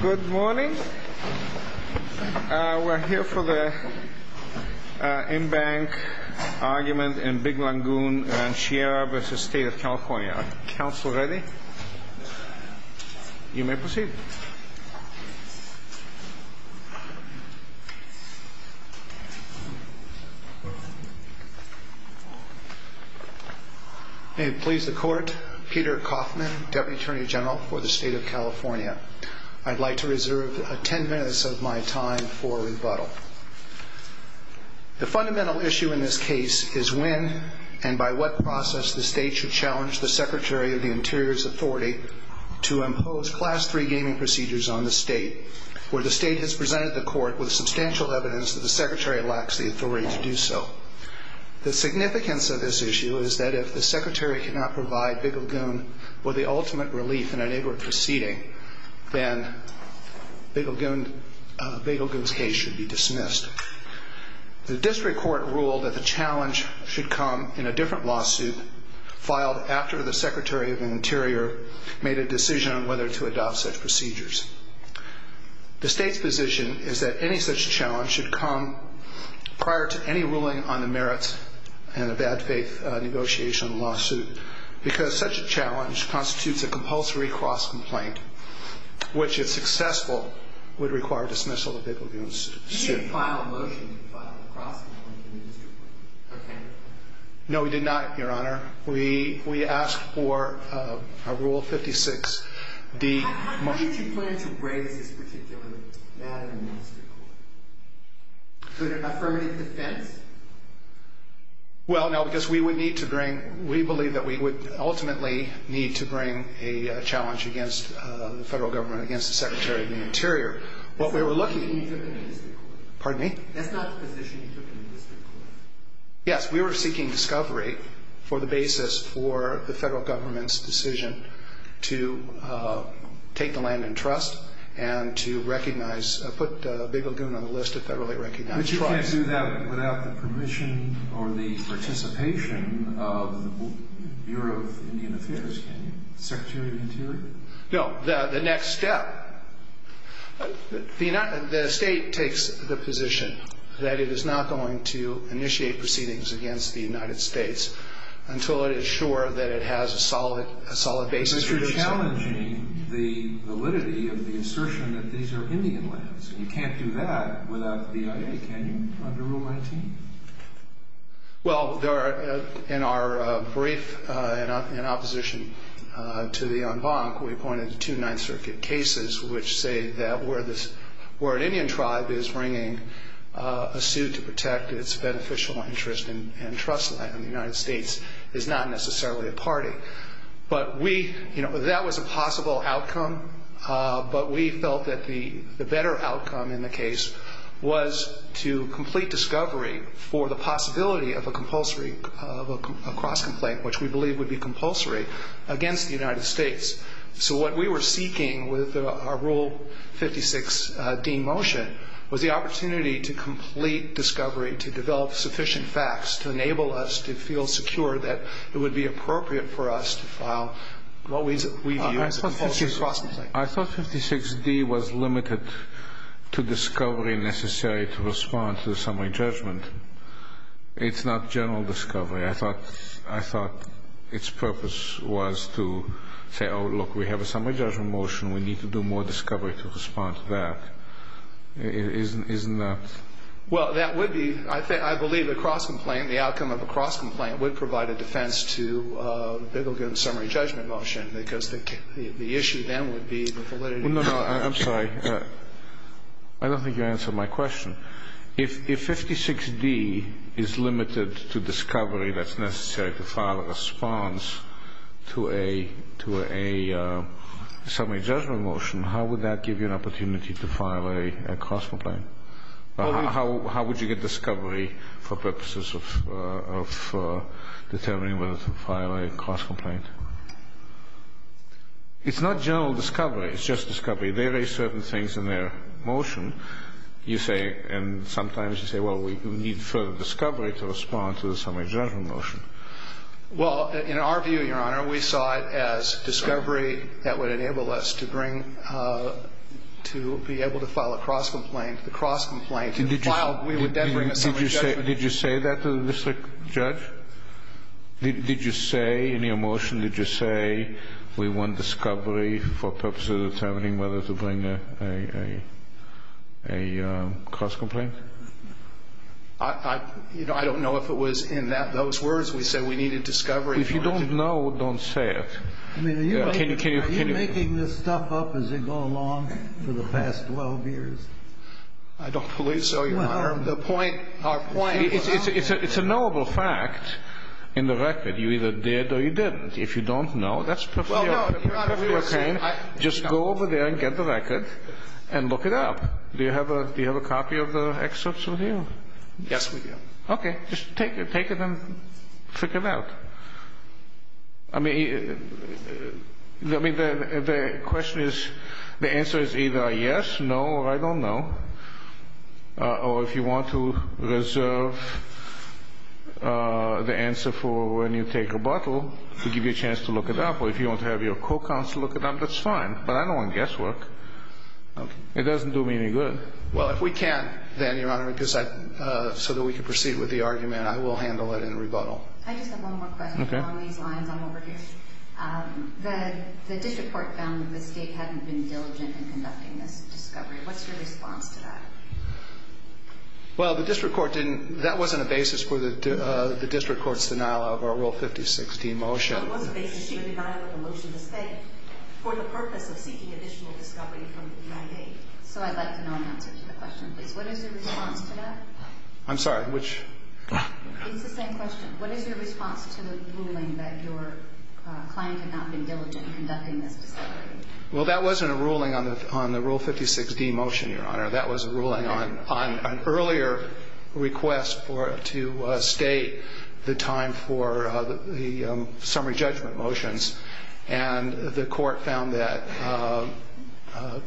Good morning. We're here for the in-bank argument in Big Lagoon Rancheria v. State of California. Council ready? You may proceed. May it please the Court, Peter Coffman, Deputy Attorney General for the State of California. I'd like to reserve 10 minutes of my time for rebuttal. The fundamental issue in this case is when and by what process the State should challenge the Secretary of the Interior's authority to impose Class III gaming procedures on the State, where the State has presented the Court with substantial evidence that the Secretary lacks the authority to do so. The significance of this issue is that if the Secretary cannot provide Big Lagoon with the ultimate relief in an able proceeding, then Big Lagoon's case should be dismissed. The District Court ruled that the challenge should come in a different lawsuit filed after the Secretary of the Interior made a decision on whether to adopt such procedures. The State's position is that any such challenge should come prior to any ruling on the merits in a bad faith negotiation lawsuit, because such a challenge constitutes a compulsory cost complaint, which if successful, would require dismissal of Big Lagoon's case. Did you file a motion to file a proposal? No, we did not, Your Honor. We asked for a Rule 56. Did you plan to raise this particular matter in the District Court? So there's not permanent dissent? Well, no, because we would need to bring – we believe that we would ultimately need to bring a challenge against the federal government, against the Secretary of the Interior. What we were looking – pardon me? Yes, we were seeking discovery for the basis for the federal government's decision to take the land in trust and to recognize – put Big Lagoon on the list of federally recognized – But you can't do that without the permission or the participation of the Bureau of Indian Affairs, can you, the Secretary of the Interior? No, the next step – the State takes the position that it is not going to initiate proceedings against the United States until it is sure that it has a solid basis for this. You're challenging the validity of the assertion that these are Indian lands. You can't do that without the authority, can you, under Rule 19? Well, there are – in our brief in opposition to the en banc, we pointed to two Ninth Circuit cases which say that where this – where an Indian tribe is bringing a suit to protect its beneficial interest in trust land in the United States is not necessarily a party. But we – you know, that was a possible outcome, but we felt that the better outcome in the case was to complete discovery for the possibility of a compulsory – of a cross-complaint, which we believe would be compulsory against the United States. So what we were seeking with our Rule 56d motion was the opportunity to complete discovery, to develop sufficient facts, to enable us to feel secure that it would be appropriate for us to file what we view as a compulsory cross-complaint. I thought 56d was limited to discovery necessary to respond to the summary judgment. It's not general discovery. I thought its purpose was to say, oh, look, we have a summary judgment motion. We need to do more discovery to respond to that. Isn't that – Well, that would be – I think – I believe a cross-complaint, the outcome of a cross-complaint would provide a defense to – it'll get a summary judgment motion because the issue then would be the validity of the – How would you get discovery for purposes of determining whether to file a cross-complaint? It's not general discovery. It's just discovery. They raised certain things in their motion. You say – and sometimes you say, well, we need further discovery to respond to the summary judgment motion. Well, in our view, Your Honor, we saw it as discovery that would enable us to bring – to be able to file a cross-complaint. The cross-complaint – Did you say that to the district judge? Did you say in your motion, did you say we want discovery for purposes of determining whether to bring a cross-complaint? I don't know if it was in those words. We say we need a discovery – If you don't know, don't say it. I mean, are you making this stuff up as you go along for the past 12 years? I don't believe so, Your Honor. The point – our point – It's a knowable fact in the record. You either did or you didn't. If you don't know, that's – Just go over there and get the record and look it up. Do you have a copy of the excerpts from here? Yes, we do. Okay. Just take it and check it out. I mean, the question is – the answer is either a yes, no, or I don't know, or if you want to reserve the answer for when you take rebuttal to give you a chance to look it up, or if you want to have your co-counsel look it up, that's fine. But I don't want guesswork. It doesn't do me any good. Well, if we can, then, Your Honor, because I – so that we can proceed with the argument, I will handle it in rebuttal. I just have one more question. Okay. The district court found that Ms. Gates hadn't been diligent in conducting this discovery. What's your response to that? Well, the district court didn't – that wasn't a basis for the district court's denial of our Rule 5016 motion. That wasn't a basis. She denied the motion to say it for the purpose of seeking additional discoveries from the United States. So I'd like to know the answer to the question, please. What is your response to that? I'm sorry, which – It's the same question. What is your response to the ruling that your client had not been diligent in conducting this discovery? Well, that wasn't a ruling on the Rule 5016 motion, Your Honor. That was a ruling on an earlier request for – to state the time for the summary judgment motions. And the court found that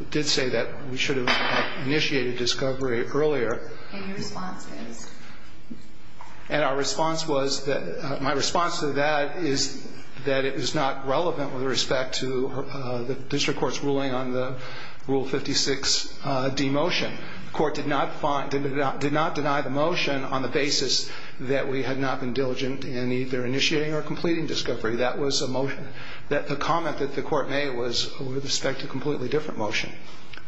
– did say that we should have initiated discovery earlier. And your response is? And our response was that – my response to that is that it was not relevant with respect to the district court's ruling on the Rule 56D motion. The court did not find – did not deny the motion on the basis that we had not been diligent in either initiating or completing discovery. That was a motion that – the comment that the court made was with respect to a completely different motion.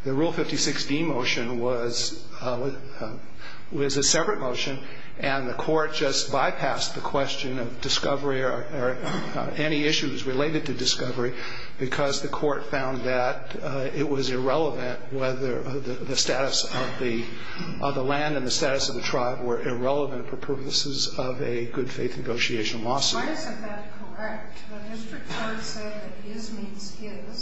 The Rule 56D motion was a separate motion, and the court just bypassed the question of discovery or any issues related to discovery because the court found that it was irrelevant whether the status of the land and the status of the tribe were irrelevant for purposes of a good faith negotiation lawsuit. Well, I don't think that's correct. The district court said that it is meaningful to you that the –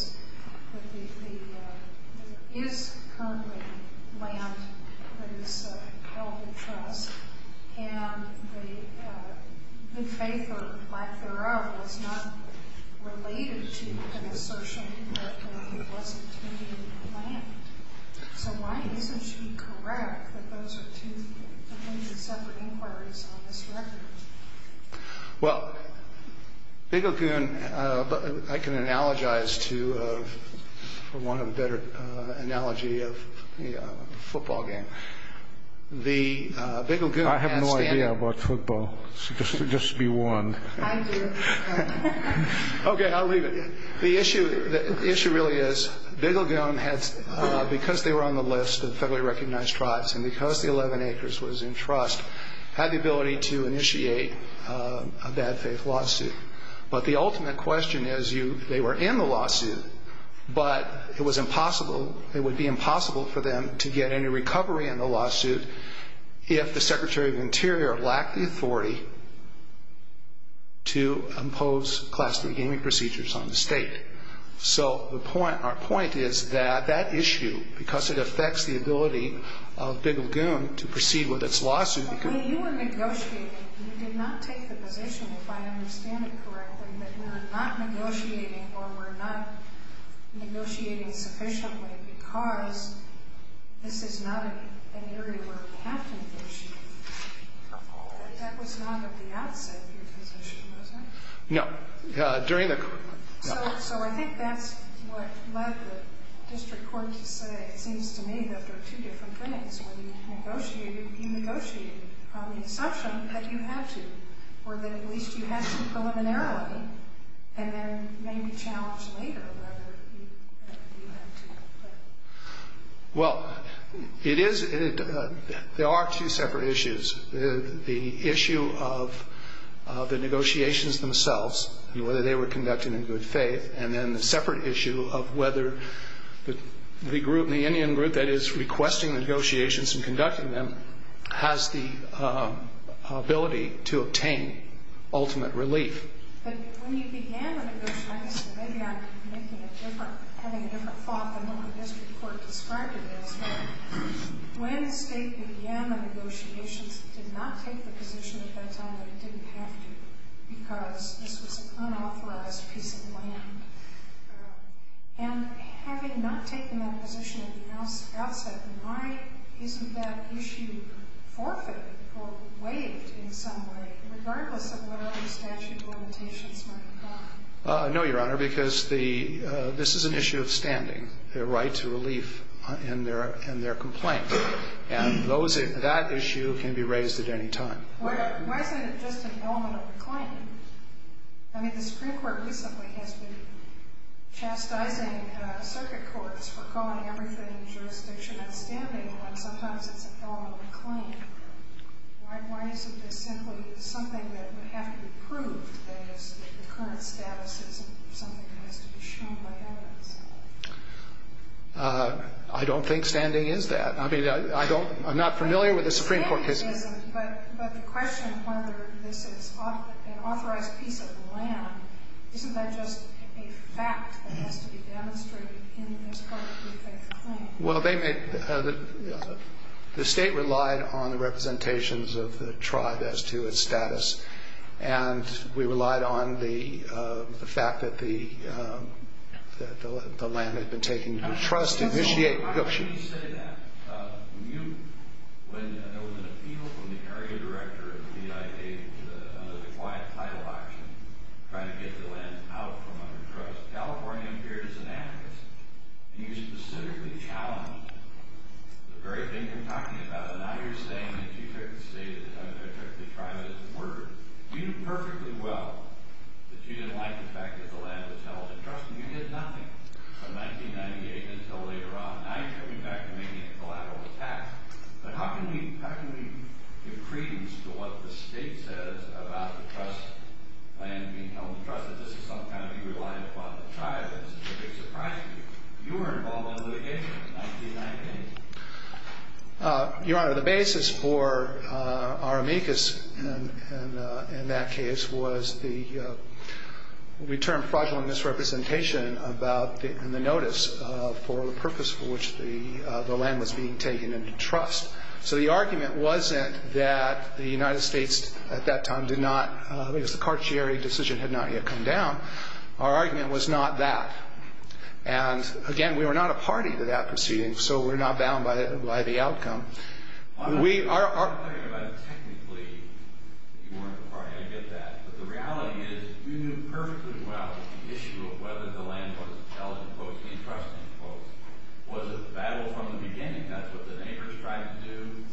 that it is currently land that is held at trust. And the – the paper by Thoreau was not related to the assertion that it was someone who wasn't taking the land. So why haven't you been correct that those are two completely separate inquiries on this record? Well, Vigilgoon – I can analogize to – for want of a better analogy of a football game. The – Vigilgoon has – I have no idea about football, so this should be one. I do. Okay, I'll read it. The issue – the issue really is Vigilgoon had – because they were on the list of federally recognized tribes and because the 11 acres was in trust, had the ability to initiate a bad faith lawsuit. But the ultimate question is you – they were in the lawsuit, but it was impossible – it would be impossible for them to get any recovery in the lawsuit if the Secretary of the Interior lacked the authority to impose class beginning procedures on the state. So the point – our point is that that issue, because it affects the ability of Vigilgoon to proceed with its lawsuit – I mean, you were negotiating. You did not take the position, if I understand it correctly, that you were not negotiating or were not negotiating sufficiently because this is not an interview or a passing issue. That was not the output of the issue, was it? No. During the – So I think that's what led the district court to think to me that there are two different things. When you negotiate, you negotiate on the instruction that you have to or that at least you have to go in a narrow way and then maybe challenge later whether you have to. Well, it is – there are two separate issues. The issue of the negotiations themselves and whether they were conducted in good faith, and then the separate issue of whether the group – the Indian group that is requesting negotiations and conducting them has the ability to obtain ultimate relief. But when you began the negotiations, maybe I'm making a different – having a different thought than what the district court described it as. When the state began the negotiations, it did not take the position at that time that it didn't have to because this is an unauthorized piece of land. And having not taken that position at the outset, why isn't that issue forfeited or waived in some way regardless of whether the statute of limitations might apply? No, Your Honor, because the – this is an issue of standing, the right to relief in their complaint. And that issue can be raised at any time. Why is it just a form of a claim? I mean, the Supreme Court recently has been chastising circuit courts for calling everything jurisdiction and standing when sometimes it's just a form of a claim. Why is it that simply it's something that has to be proved and the current status is something that has to be shown by evidence? I don't think standing is that. I mean, I don't – I'm not familiar with the Supreme Court case. But the question is whether this is an unauthorized piece of land. Isn't that just a fact that has to be demonstrated in this court's jurisdiction? Well, they may – the state relied on the representations of the tribe as to its status. And we relied on the fact that the land had been taken from the trust to initiate negotiations. We didn't say that. We knew when there was an appeal from the area director of the United States of the quiet plan of action to try to get the land out from under trust. California appears to have this. You specifically challenged the very thing you're talking about. And now you're saying that you're going to say that the tribe has been murdered. We knew perfectly well that you denied the fact that the land was held at trust, and we did not. But 1998 is still later on. Now you're coming back to me being collateral to that. But how can we – how can we appreciate what the state says about the trust land being held in trust? This is something that we relied upon the tribe. And it's very surprising. You were involved in litigation in 1990. Your Honor, the basis for our amicus in that case was the return fraudulent misrepresentation about the notice for the purpose for which the land was being taken into trust. So the argument wasn't that the United States at that time did not – the Cartier decision had not yet come down. Our argument was not that. And, again, we were not a party to that proceeding, so we're not bound by the outcome. We are – We weren't a party to that. But the reality is we knew perfectly well that the issue of whether the land was held in trust was a battle from the beginning. That was a neighbor of the tribe's, too.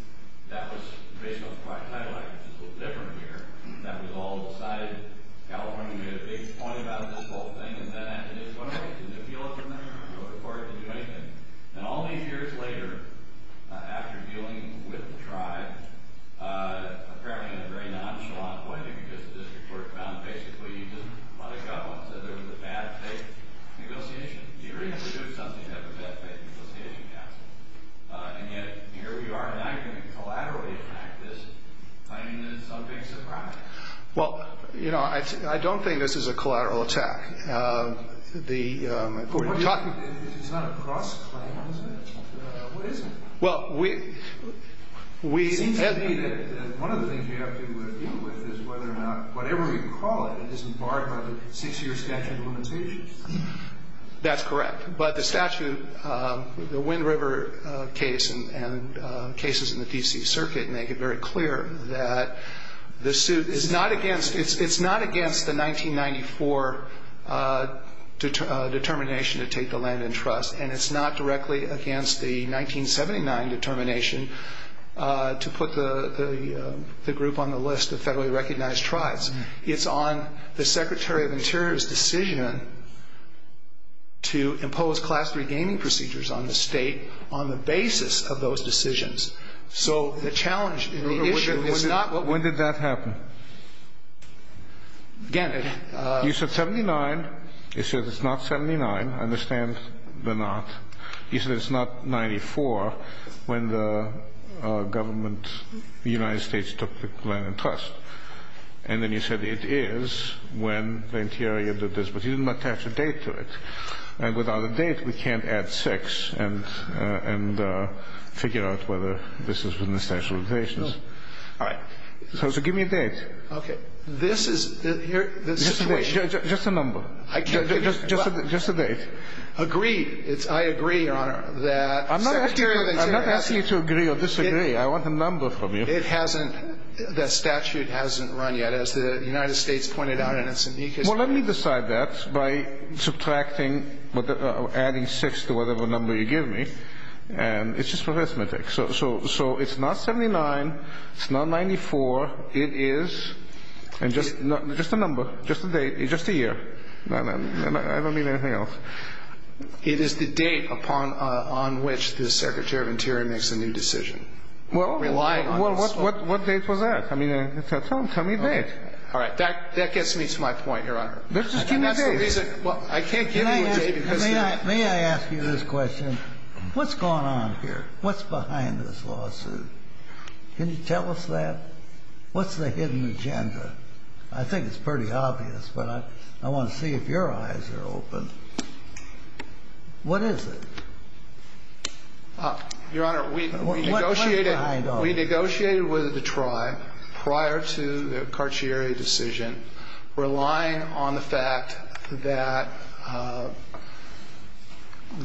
That was based on the project I like. It's a little different here. That was all decided. California made a big point about this whole thing. And then I just wondered, did it appeal to them? Was it a party to do anything? And all these years later, after dealing with the tribe, apparently in a very nonchalant way, you could get this report found basically. You didn't want to go. So there was a bad faith negotiation. In theory, this was something that was a bad faith negotiation, yes. And yet, here we are. And I think the collateral impact is – I mean, this is something that's surprising. Well, you know, I don't think this is a collateral attack. It's not a cross-claim, is it? What is it? Well, we – One of the things you have to deal with is whether or not whatever you call it is part of a six-year statute of limitations. That's correct. But the statute, the Wind River case and cases in the D.C. Circuit make it very clear that the suit is not against – it's not against the 1994 determination to take the land in trust. And it's not directly against the 1979 determination to put the group on the list of federally recognized tribes. It's on the Secretary of Interior's decision to impose Class III gaming procedures on the state on the basis of those decisions. So the challenge in the issue is not what – When did that happen? Again – You said 79. You said it's not 79. I understand the not. You said it's not 94 when the government, the United States, took the land in trust. And then you said it is when the Interior did this. But you didn't attach a date to it. And without a date, we can't add six and figure out whether this is within the statute of limitations. All right. So give me a date. Okay. This is – Just a date. Just a number. I can't give you – Just a date. Agree. I agree, Your Honor, that – I'm not asking you to agree or disagree. I want a number from you. It hasn't – the statute hasn't run yet, as the United States pointed out. Well, let me decide that by subtracting or adding six to whatever number you give me. And it's just arithmetic. So it's not 79. It's not 94. It is – Just a number. Just a date. Just a year. I don't need anything else. It is the date upon which the Secretary of Interior makes a new decision. Well, what date was that? I mean, it sounds – tell me a date. All right. That gets to my point, Your Honor. Just give me a date. I can't give you a date because – May I ask you this question? What's going on here? What's behind this lawsuit? Can you tell us that? What's the hidden agenda? I think it's pretty obvious, but I want to see if your eyes are open. What is it? Your Honor, we negotiated with Detroit prior to the Cartier decision, relying on the fact that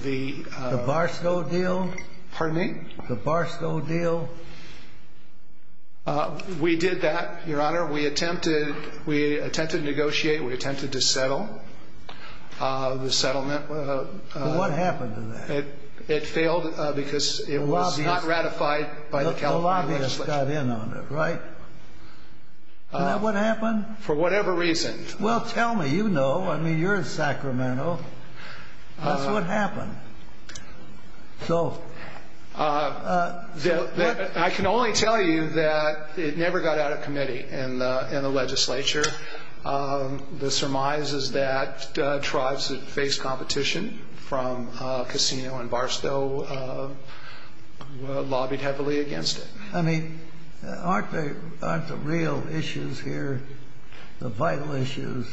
the – The Barstow deal? Pardon me? The Barstow deal? We did that, Your Honor. We attempted to negotiate. We attempted to settle the settlement. What happened to that? It failed because it was not ratified by the California legislature. A lobbyist got in on it, right? Is that what happened? For whatever reason. Well, tell me. You know. I mean, you're Sacramento. That's what happened. So – I can only tell you that it never got out of committee in the legislature. The surmise is that tribes that face competition from Casino and Barstow lobbied heavily against it. I mean, aren't the real issues here the vital issues,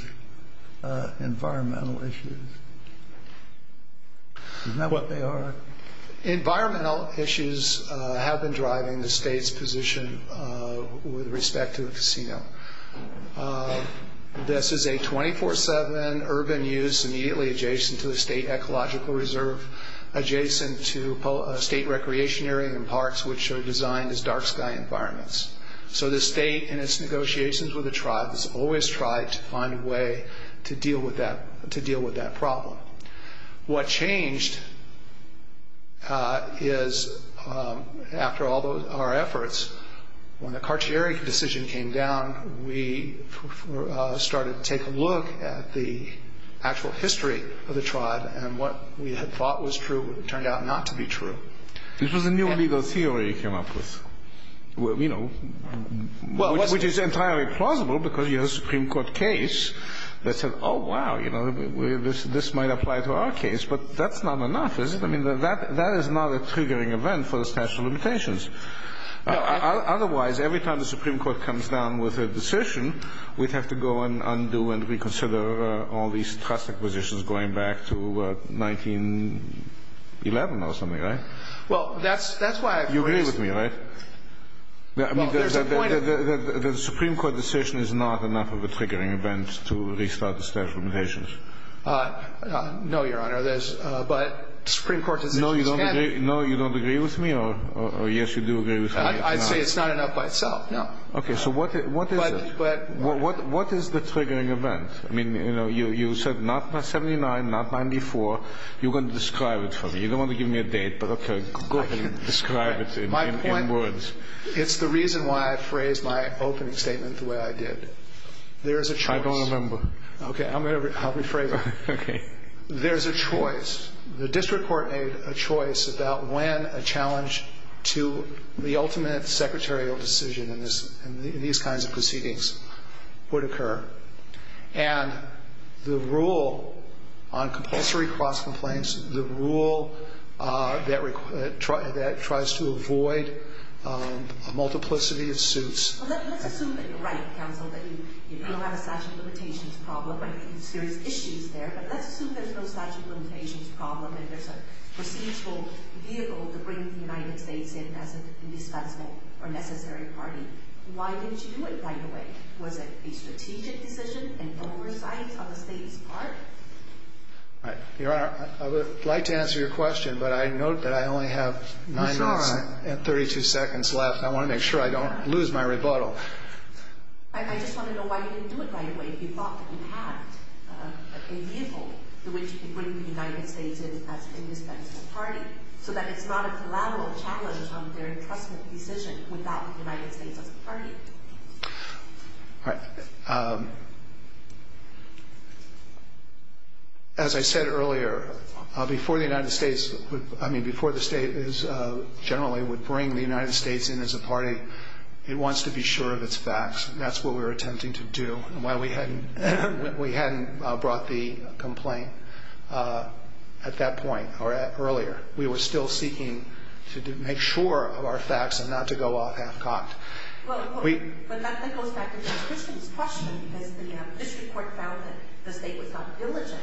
environmental issues? Isn't that what they are? Environmental issues have been driving the state's position with respect to the casino. This is a 24-7 urban use immediately adjacent to the state ecological reserve, adjacent to state recreation area and parks, which are designed as dark sky environments. So the state in its negotiations with the tribes always tried to find a way to deal with that problem. What changed is after all of our efforts, when the Cartier decision came down, we started to take a look at the actual history of the tribe and what we had thought was true turned out not to be true. This was a new legal theory, if you're not mistaken. Which is entirely plausible because you have a Supreme Court case that said, oh, wow, this might apply to our case, but that's not enough, is it? I mean, that is not a triggering event for the statute of limitations. Otherwise, every time the Supreme Court comes down with a decision, we'd have to go and undo and reconsider all these trust acquisitions going back to 1911 or something, right? You agree with me, right? The Supreme Court decision is not enough of a triggering event to restart the statute of limitations. No, Your Honor. No, you don't agree with me? I'd say it's not enough by itself, no. Okay, so what is it? What is the triggering event? I mean, you said not by 79, not by 94. You're going to describe it for me. You don't want to give me a date, but okay, go ahead and describe it in words. It's the reason why I phrased my opening statement the way I did. I don't remember. Okay, I'll rephrase it. Okay. There's a choice. The district court made a choice about when a challenge to the ultimate secretarial decision in these kinds of proceedings would occur. And the rule on compulsory cross-complaints, the rule that tries to avoid a multiplicity of suits... Let's assume that you're right, counsel, that you don't have a statute of limitations problem. I think there are issues there, but let's assume there's no statute of limitations problem, and that the district court needed to bring the United States in as its indispensable or necessary party. Why didn't you do it, by the way? Was it the strategic position and oversight of a State Department? Your Honor, I would like to answer your question, but I note that I only have nine minutes and 32 seconds left. I want to make sure I don't lose my rebuttal. I just want to know why you didn't do it, by the way, if you thought that you had a vehicle to which to bring the United States in as an indispensable party, so that it's not a collateral challenge on their customary position without the United States as a party. All right. As I said earlier, before the United States... I mean, before the State generally would bring the United States in as a party, it wants to be sure of its facts. That's what we were attempting to do. We hadn't brought the complaint at that point or earlier. We were still seeking to make sure of our facts and not to go off half-cocked. Well, of course. But that goes back to your question. This report found that the State was not diligent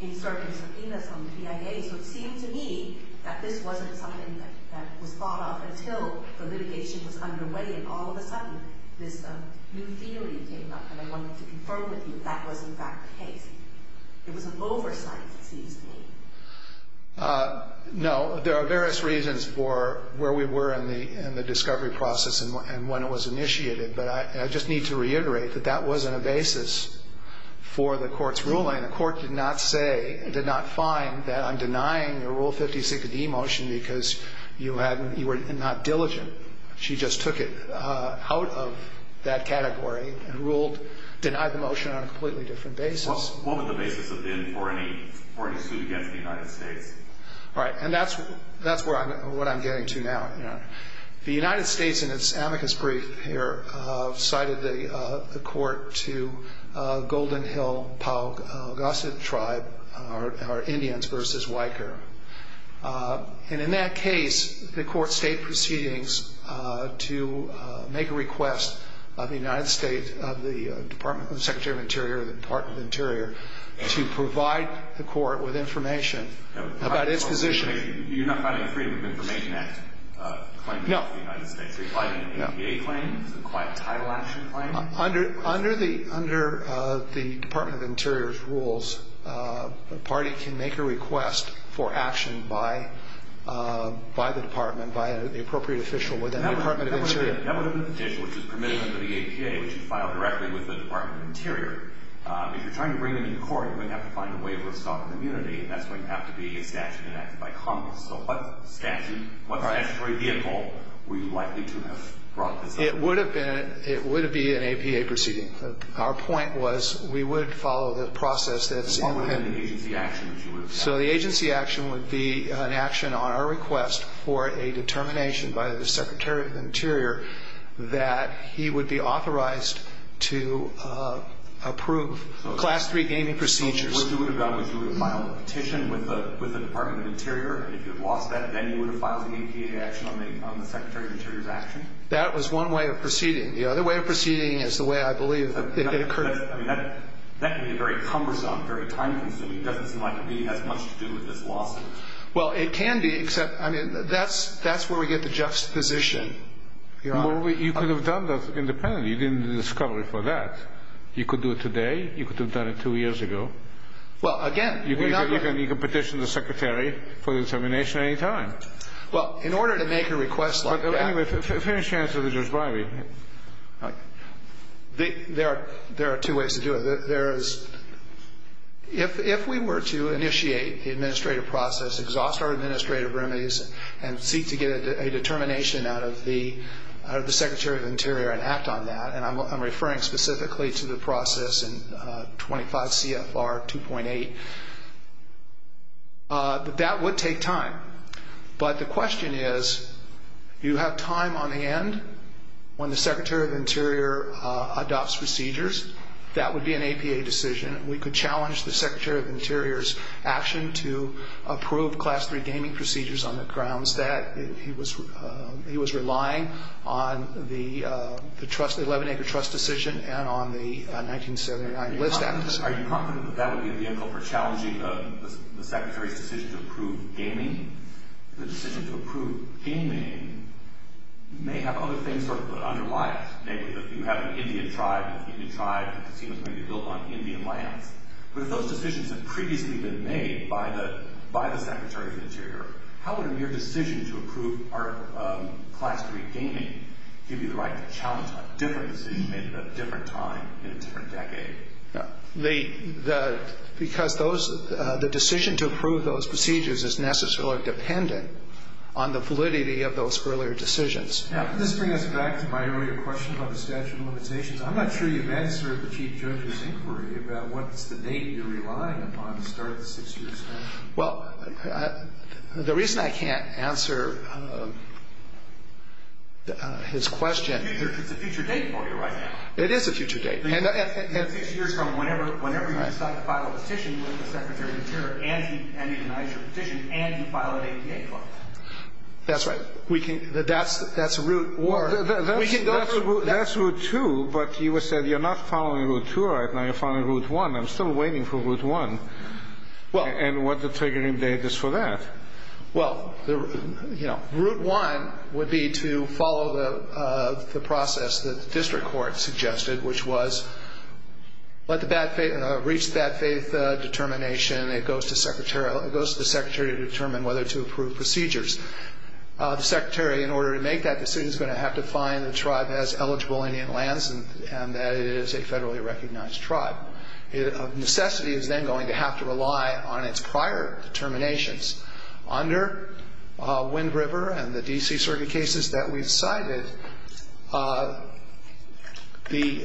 in searching for evidence on the CIA, but it seemed to me that this wasn't something that was brought up until the litigation was underway and all of a sudden this new feeling came up and I wanted to confirm with you that that was, in fact, the case. It was an oversight, do you think? No. There are various reasons for where we were in the discovery process and when it was initiated, but I just need to reiterate that that wasn't a basis for the court's ruling. The court did not say, did not find that I'm denying your Rule 56 of the e-motion because you were not diligent. She just took it out of that category and ruled, denied the motion on a completely different basis. What was the basis for the suit against the United States? Right. And that's what I'm getting to now. The United States, in its amicus brief here, cited the court to Golden Hill-Powell-Gossett tribe, our Indians versus Waikare. And in that case, the court stayed proceedings to make a request of the United States, of the Department of the Secretary of the Interior, of the Department of the Interior, to provide the court with information about its position. Do you not have any freedom to make that claim? No. You're citing an APA claim, a title action claim? Under the Department of the Interior's rules, the party can make a request for action by the department, by the appropriate official within the Department of the Interior. That would have been the petition, which is the permission of the APA, which is filed directly with the Department of the Interior. If you're trying to bring it to court, you're going to have to find a way of restocking immunity, and that's going to have to be an action enacted by Congress. So what action, what statutory vehicle were you likely to have brought to the court? It would have been an APA proceeding. Our point was we would follow the process that's independent. So what would be the agency action that you would have followed? So the agency action would be an action on our request for a determination by the Secretary of the Interior that he would be authorized to approve Class III gaming procedures. So you would have gone through the final petition with the Department of the Interior, and if you lost that, then you would have filed an APA action on the Secretary of the Interior's action? That was one way of proceeding. The other way of proceeding is the way I believe that occurred. That can be a very cumbersome, very time-consuming thing. It doesn't seem to have much to do with the law. Well, it can be, except that's where we get the juxtaposition. You could have done those independently. You didn't do the discovery for that. You could do it today. You could have done it two years ago. Well, again, we're not going to – You can petition the Secretary for determination at any time. Anyway, finish the answer to Judge Breyer. There are two ways to do it. If we were to initiate the administrative process, exhaust our administrative remedies, and seek to get a determination out of the Secretary of the Interior and act on that, and I'm referring specifically to the process in 25 CFR 2.8, that would take time. But the question is, do you have time on hand when the Secretary of the Interior adopts procedures? That would be an APA decision. We could challenge the Secretary of the Interior's action to approve Class III gaming procedures on the grounds that he was relying on the 11-acre trust decision and on the 1979 list act. Are you confident that that would be a vehicle for challenging the Secretary's decision to approve gaming? The decision to approve gaming may have other things, sort of, unreliable. Say that you have an Indian tribe, and the Indian tribe seems to be built on Indian land. But if those decisions have previously been made by the Secretary of the Interior, how would your decision to approve Class III gaming give you the right to challenge a different decision made at a different time in a different decade? Because the decision to approve those procedures is necessarily dependent on the validity of those earlier decisions. Now, this brings us back to my earlier question about the statute of limitations. I'm not sure you've answered the Chief Judge's inquiry about what the date you're relying upon to start a six-year extension. Well, the reason I can't answer his question... It's a future date for you right now. It is a future date. And six years from whenever you decide to file a petition with the Secretary of the Interior, and he denies your petition, and you file an APA claim. That's right. We can... That's Route 2, but he said you're not following Route 2 right now, you're following Route 1. I'm still waiting for Route 1. And what's the triggering date for that? Well, Route 1 would be to follow the process that the district court suggested, which was reach the bad faith determination, and it goes to the Secretary to determine whether to approve procedures. The Secretary, in order to make that decision, is going to have to find a tribe that has eligible Indian lands, and that is a federally recognized tribe. A necessity is then going to have to rely on its prior determinations. Under Wind River and the D.C. Circuit cases that we've cited, we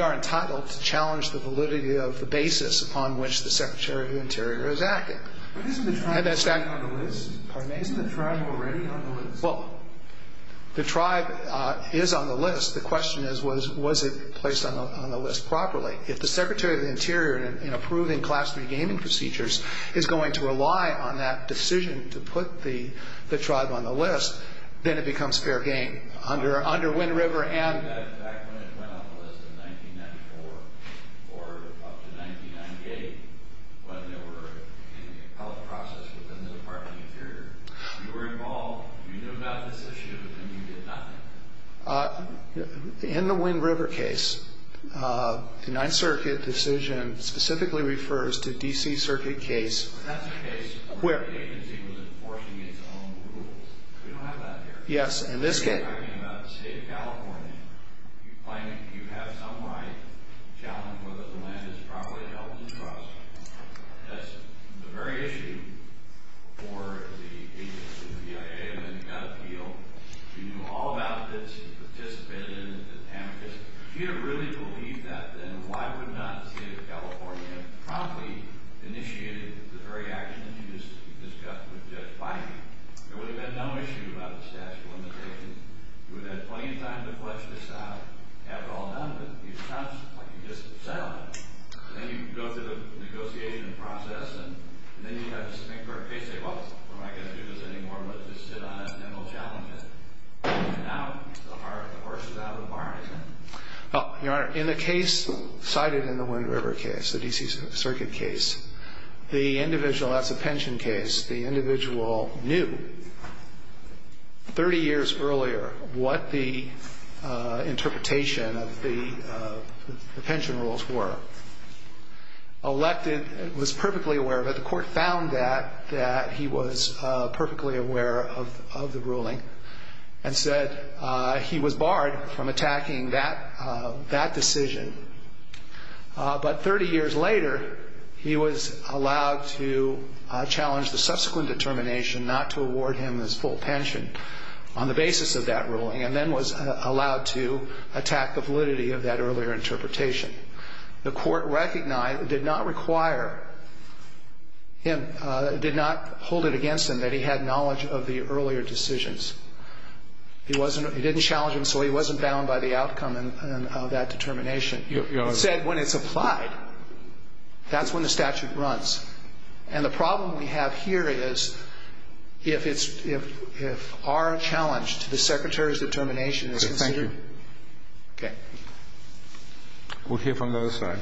are entitled to challenge the validity of the basis upon which the Secretary of the Interior is acting. Isn't the tribe already on the list? Well, the tribe is on the list. The question is, was it placed on the list properly? If the Secretary of the Interior, in approving class 3 gaming procedures, is going to rely on that decision to put the tribe on the list, then it becomes fair game. Under Wind River and... Back when it went on the list in 1994, or up to 1998, when they were in the trial process within the Department of the Interior, you were involved, you knew about this issue, and you did nothing. In the Wind River case, the 9th Circuit decision specifically refers to the D.C. Circuit case... In that case, the agency was enforcing its own rules. We don't have that there. Yes, in this case. If you're talking about the state of California, you claim that you have some right to challenge whether the land is properly held to trust. That's the very issue for the agency, the academy, and the field. You knew all about this, you participated in this attempt. If you really believed that, then why would not the state of California have promptly initiated the very actions you just discussed with Judge Feinberg? There would have been no issue about the statute of limitations. We've had plenty of times in the past where we've said, after all that, if we trust, I can just settle it. Then you go to the negotiation process, and many times, the maker of the case says, well, I'm not going to do this anymore, let's just deny it and then we'll challenge it. Now, the horse is out of the barn. Well, Your Honor, in a case cited in the Wind River case, the D.C. Circuit case, the individual, that's a pension case, the individual knew 30 years earlier what the interpretation of the pension rules were. Elected, was perfectly aware of it. The court found that he was perfectly aware of the ruling and said he was barred from attacking that decision. But 30 years later, he was allowed to challenge the subsequent determination not to award him his full pension on the basis of that ruling and then was allowed to attack the validity of that earlier interpretation. The court recognized it did not require him, did not hold it against him that he had knowledge of the earlier decisions. He didn't challenge him, so he wasn't bound by the outcome of that determination. You said when it's applied. That's when the statute runs. And the problem we have here is if our challenge to the Secretary's determination is considered. Thank you. Okay. We'll hear from the other side.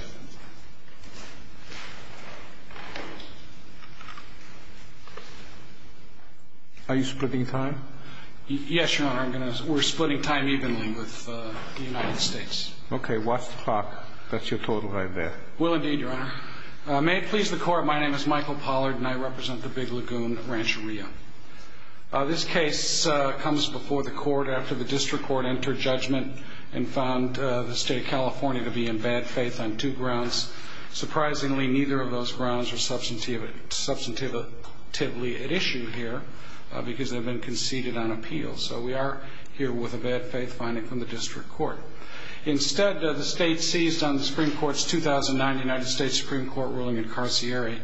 Are you splitting time? Yes, Your Honor. We're splitting time evenly with the United States. Okay. Watch the clock. That's your total right there. Will indeed, Your Honor. May it please the Court, my name is Michael Pollard and I represent the Big Lagoon Rancheria. This case comes before the Court after the District Court entered judgment and found the State of California to be in bad faith on two grounds. Surprisingly, neither of those grounds are substantively at issue here because they've been conceded on appeal. So we are here with a bad faith finding from the District Court. Instead, the State seized on the Supreme Court's 2009 United States Supreme Court ruling in Carcieri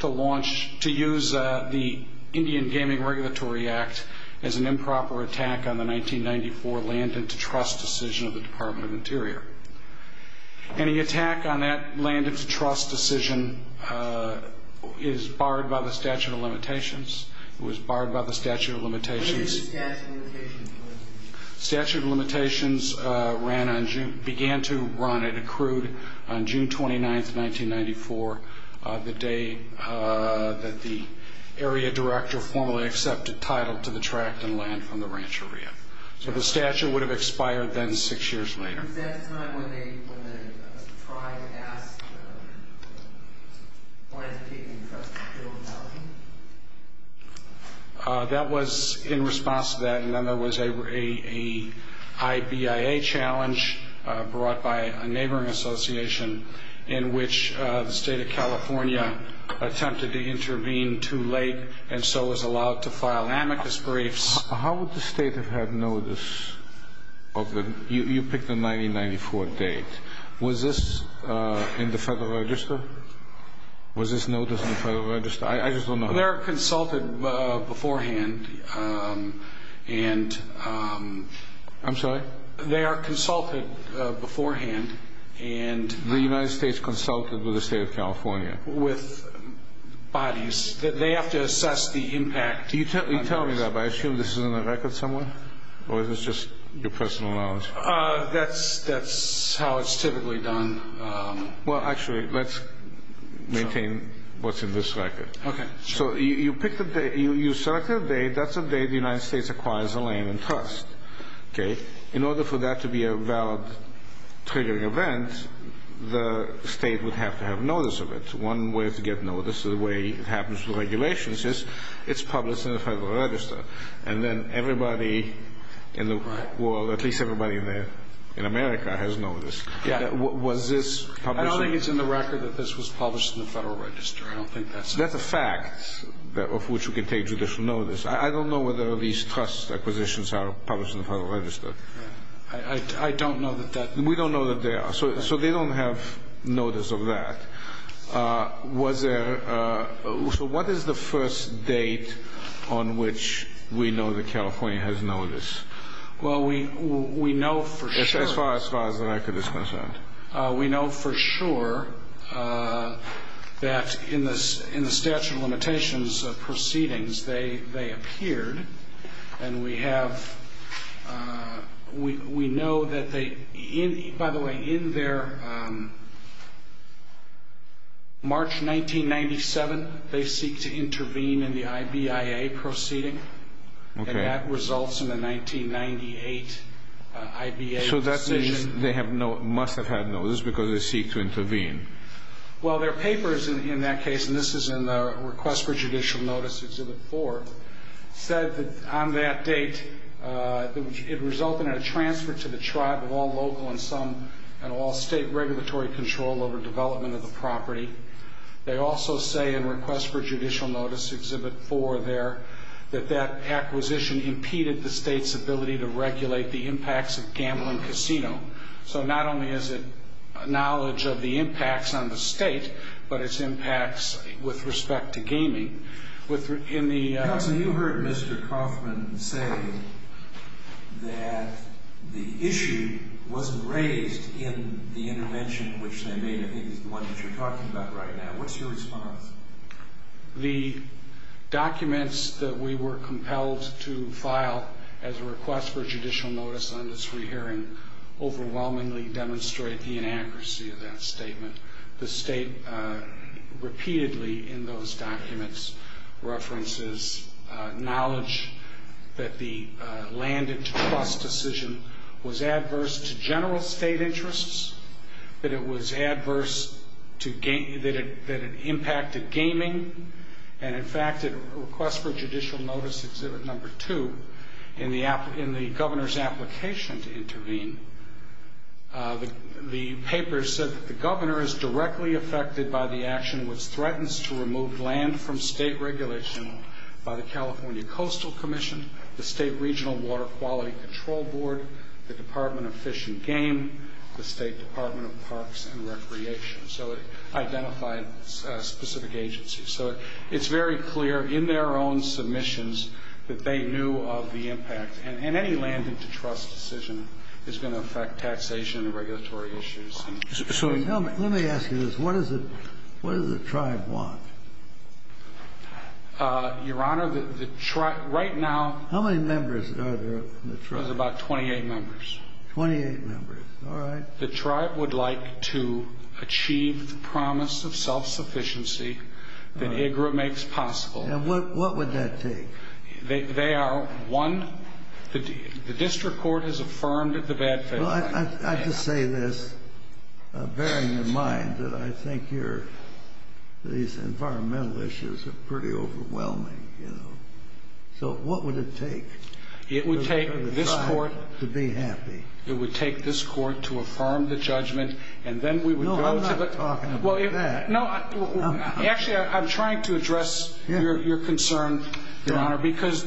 to use the Indian Gaming Regulatory Act as an improper attack on the 1994 land and to trust decision of the Department of Interior. Any attack on that land and to trust decision is barred by the Statute of Limitations. It was barred by the Statute of Limitations. What did the Statute of Limitations say? The Statute of Limitations began to run at a crude on June 29, 1994, the day that the Area Director formally accepted title to the tract and land from the Rancheria. So the statute would have expired then six years later. Was that the time when they tried to ask for the land to be taken from the Trill Mountain? That was in response to that. And then there was a high BIA challenge brought by a neighboring association in which the State of California attempted to intervene too late and so was allowed to file amicus briefs. How would the State have known this? You picked the 1994 date. Was this in the Federal Register? Was this noticed in the Federal Register? I just want to know. They are consulted beforehand and... I'm sorry? They are consulted beforehand and... The United States consulted with the State of California. With bodies. They have to assess the impact. Do you tell me that? I assume this is in the record somewhere? Or is this just your personal knowledge? That's how it's typically done. Well, actually, let's maintain what's in this record. So you pick the date. You select the date. That's the date the United States acquires the land in trust. In order for that to be a valid triggering event, the State would have to have notice of it. One way to get notice, the way it happens with regulations, is it's published in the Federal Register. And then everybody in the world, at least everybody in America, has notice. Was this published? I don't think it's in the record that this was published in the Federal Register. I don't think that's... That's a fact of which we can take judicial notice. I don't know whether these trust acquisitions are published in the Federal Register. I don't know that that... We don't know that they are. So they don't have notice of that. So what is the first date on which we know that California has notice? Well, we know for sure... As far as the record is concerned. We know for sure that in the statute of limitations proceedings, they appeared. And we have... We know that they... By the way, in their March 1997, they seek to intervene in the IBIA proceeding. Okay. And that results in the 1998 IBA decision. So that means they must have had notice because they seek to intervene. Well, their papers in that case, and this is in the request for judicial notice, Exhibit 4, said that on that date it resulted in a transfer to the tribe of all local and all state regulatory control over development of the property. They also say in request for judicial notice, Exhibit 4 there, that that acquisition impeded the state's ability to regulate the impacts of gambling casino. So not only is it knowledge of the impacts on the state, but its impacts with respect to gaming. Counsel, you heard Mr. Kaufman say that the issue wasn't raised in the intervention which they made. I think it's the one that you're talking about right now. What's your response? The documents that we were compelled to file as a request for judicial notice on this re-hearing overwhelmingly demonstrate the inaccuracy of that statement. The state repeatedly in those documents references knowledge that the land-at-trust decision was adverse to general state interests, that it was adverse, that it impacted gaming. And, in fact, in request for judicial notice, Exhibit 2, in the governor's application to intervene, the paper said that the governor is directly affected by the action which threatens to remove land from state regulation by the California Coastal Commission, the State Regional Water Quality Control Board, the Department of Fish and Game, the State Department of Parks and Recreation. So it identified specific agencies. So it's very clear in their own submissions that they knew of the impact. And any land-at-trust decision is going to affect taxation and regulatory issues. So let me ask you this. What does the tribe want? Your Honor, the tribe right now— How many members are there in the tribe? There's about 28 members. Twenty-eight members. All right. The tribe would like to achieve the promise of self-sufficiency that IGRA makes possible. And what would that take? They are, one, the district court has affirmed the bad thing. I should say this, bearing in mind that I think these environmental issues are pretty overwhelming. So what would it take for the tribe to be happy? It would take this court to affirm the judgment, and then we would go to the— No, I'm not talking about that. Actually, I'm trying to address your concern, Your Honor, because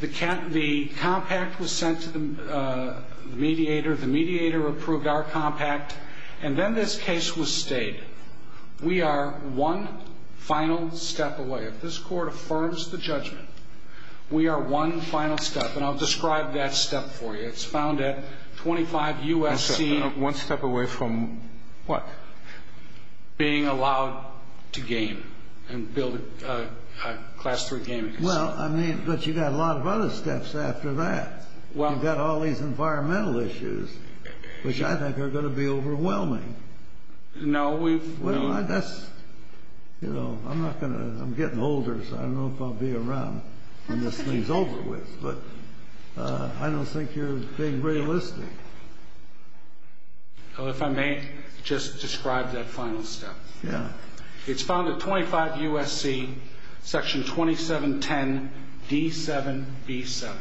the compact was sent to the mediator. The mediator approved our compact, and then this case was stayed. We are one final step away. If this court affirms the judgment, we are one final step. And I'll describe that step for you. It's found at 25 U.S.T. One step away from what? Being allowed to gain and build a class for gain. Well, I mean, but you've got a lot of other steps after that. Well— You've got all these environmental issues, which I think are going to be overwhelming. No, we— Well, that's—you know, I'm not going to—I'm getting older, so I don't know if I'll be around when this thing's over with. But I don't think you're being realistic. Well, if I may just describe that final step. Yeah. It's found at 25 U.S.T., Section 2710D7B7.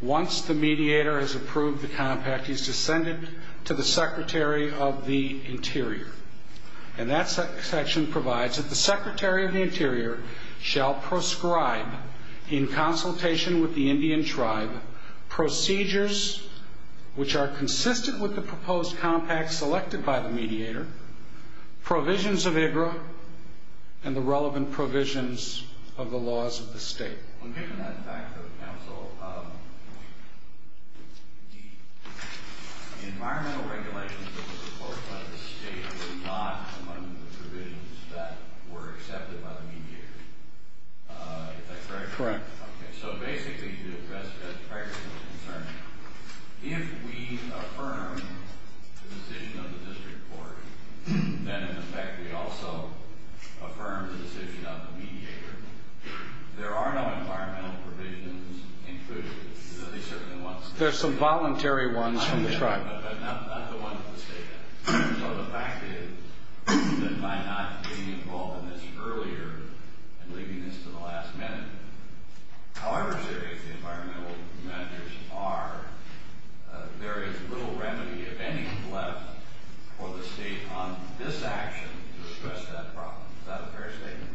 Once the mediator has approved the compact, it's to send it to the Secretary of the Interior. And that section provides that the Secretary of the Interior shall prescribe in consultation with the Indian tribe procedures which are consistent with the proposed compact selected by the mediator, provisions of a group, and the relevant provisions of the laws of the state. One question on the back of the council. The environmental regulations that were supported by the state were not among the provisions that were accepted by the mediator. That's correct? Correct. So basically, as far as I'm concerned, if we affirm the decision of the district board, and in fact we also affirm the decision of the mediator, there are no environmental provisions included in the existing laws. There's some voluntary ones on the tribe. Voluntary, but not the ones of the state. So the fact is that by not being involved in this earlier, and leaving this to the last minute, however serious the environmental measures are, there is little remedy of any left for the state on this action to address that problem without a fair statement.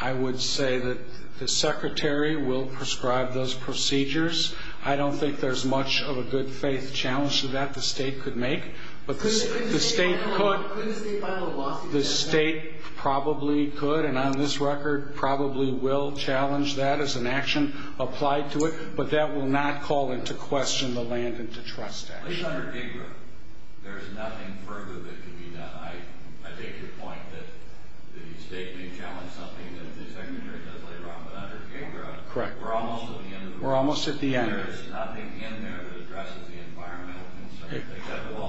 I would say that the Secretary will prescribe those procedures. I don't think there's much of a good-faith challenge to that the state could make. But the state could. The state probably could, and on this record, probably will challenge that as an action applied to it. But that will not call into question the land and to trust action. We're almost at the end. There is nothing in there to address the environmental.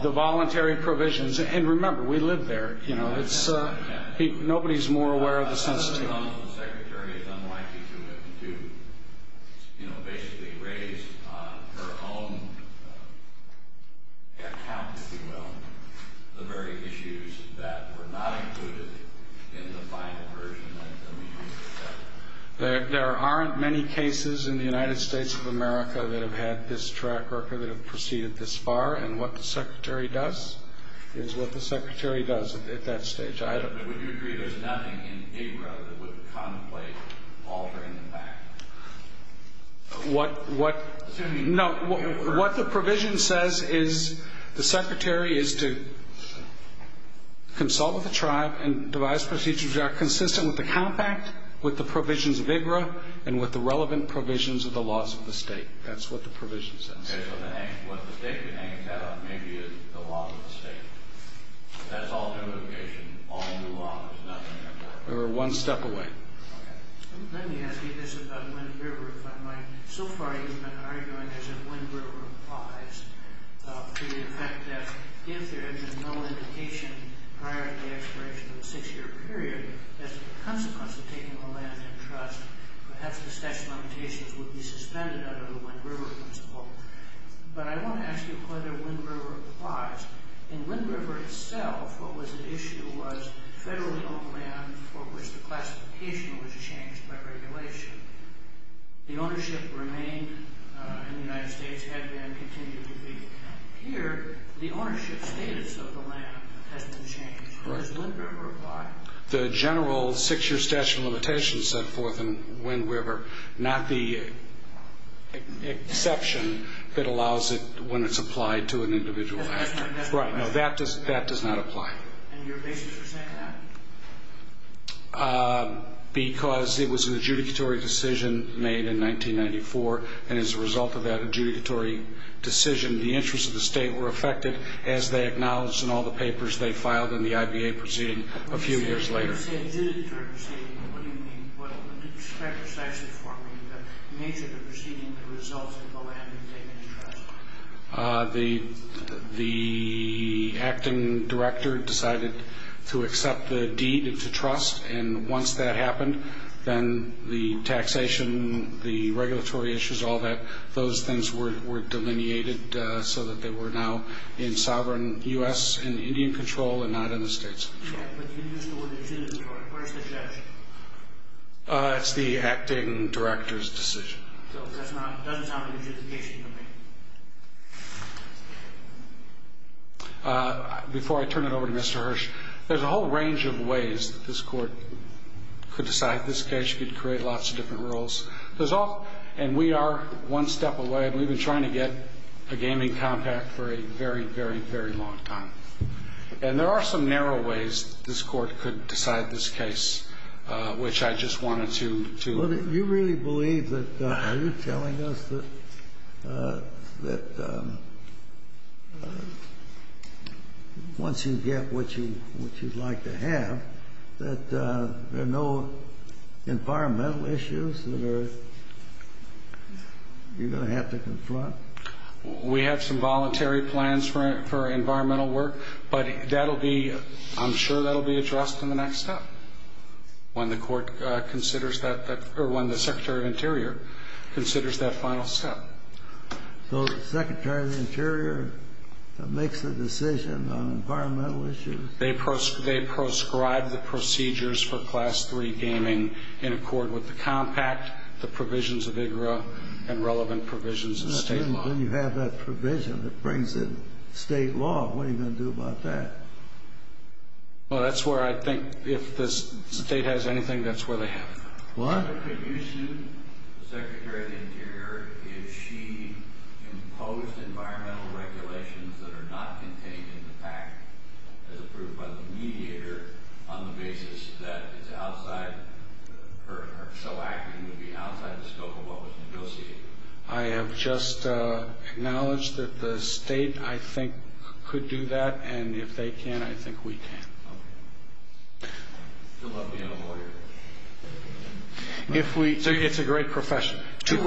The voluntary provisions. And remember, we live there. Nobody's more aware of the sensitivity. The Secretary is unlikely to basically raise her own account, if you will, of the various issues that were not included in the final version. There aren't many cases in the United States of America that have had this track record that have proceeded this far. And what the Secretary does is what the Secretary does at that stage. Would you agree there's nothing in ARA that would contemplate altering the fact? What the provision says is the Secretary is to consult with the tribe and devise procedures that are consistent with the compact, with the provisions of AGRA, and with the relevant provisions of the laws of the state. That's what the provision says. Okay. But then what the state could aim at may be the laws of the state. That's all simplification. All new laws. Nothing like that. We're one step away. Okay. Let me ask you this about Wind River. My so-called argument is that Wind River applies. The fact that if there is no indication prior to the expiration of a six-year period, as a consequence of taking the land in trust, perhaps the section on the case would be suspended under the Wind River principle. But I want to ask you whether Wind River applies. In Wind River itself, what was at issue was federal zone land for which the classification was changed by regulation. The ownership remained in the United States, has been and continues to be. Here, the ownership status of the land has been changed. Does Wind River apply? The general six-year statute of limitations set forth in Wind River, not the exception that allows it when it's applied to an individual actor. Right. That does not apply. And your basis for saying that? Because it was an adjudicatory decision made in 1994, and as a result of that adjudicatory decision, the interests of the state were affected, as they acknowledged in all the papers they filed in the IBA proceeding a few years later. When you say it is an adjudicatory decision, what do you mean by that? What is the nature of the proceeding that results in the land being taken in trust? The acting director decided to accept the deed into trust, and once that happened, then the taxation, the regulatory issues, all that, those things were delineated so that they were now in sovereign U.S. and Indian control and not in the states. But the individual decision is an adjudicatory decision? It's the acting director's decision. It doesn't sound like an adjudication to me. Before I turn it over to Mr. Hirsch, there's a whole range of ways that this court could decide this case. You could create lots of different rules. And we are one step away. We've been trying to get a gaming compact for a very, very, very long time. And there are some narrow ways this court could decide this case, which I just wanted to let you know. You really believe that, are you telling us that once you get what you'd like to have, that there are no environmental issues that you're going to have to confront? We have some voluntary plans for environmental work, but I'm sure that will be addressed in the next step when the court considers that—or when the Secretary of the Interior considers that final step. So the Secretary of the Interior makes the decision on environmental issues? They proscribe the procedures for Class III gaming in accord with the compact, the provisions of IGRA, and relevant provisions of state law. When you have that provision that brings in state law, what are you going to do about that? Well, that's where I think—if the state has anything, that's where they have it. What? The provision, the Secretary of the Interior, if she imposed environmental regulations that are not contained in the compact, as proved by the mediator, on the basis that it's outside— or so acting to be outside the scope of what was negotiated. I have just acknowledged that the state, I think, could do that. And if they can, I think we can. Okay. You'll have to get a lawyer. If we—so it's a great profession. Two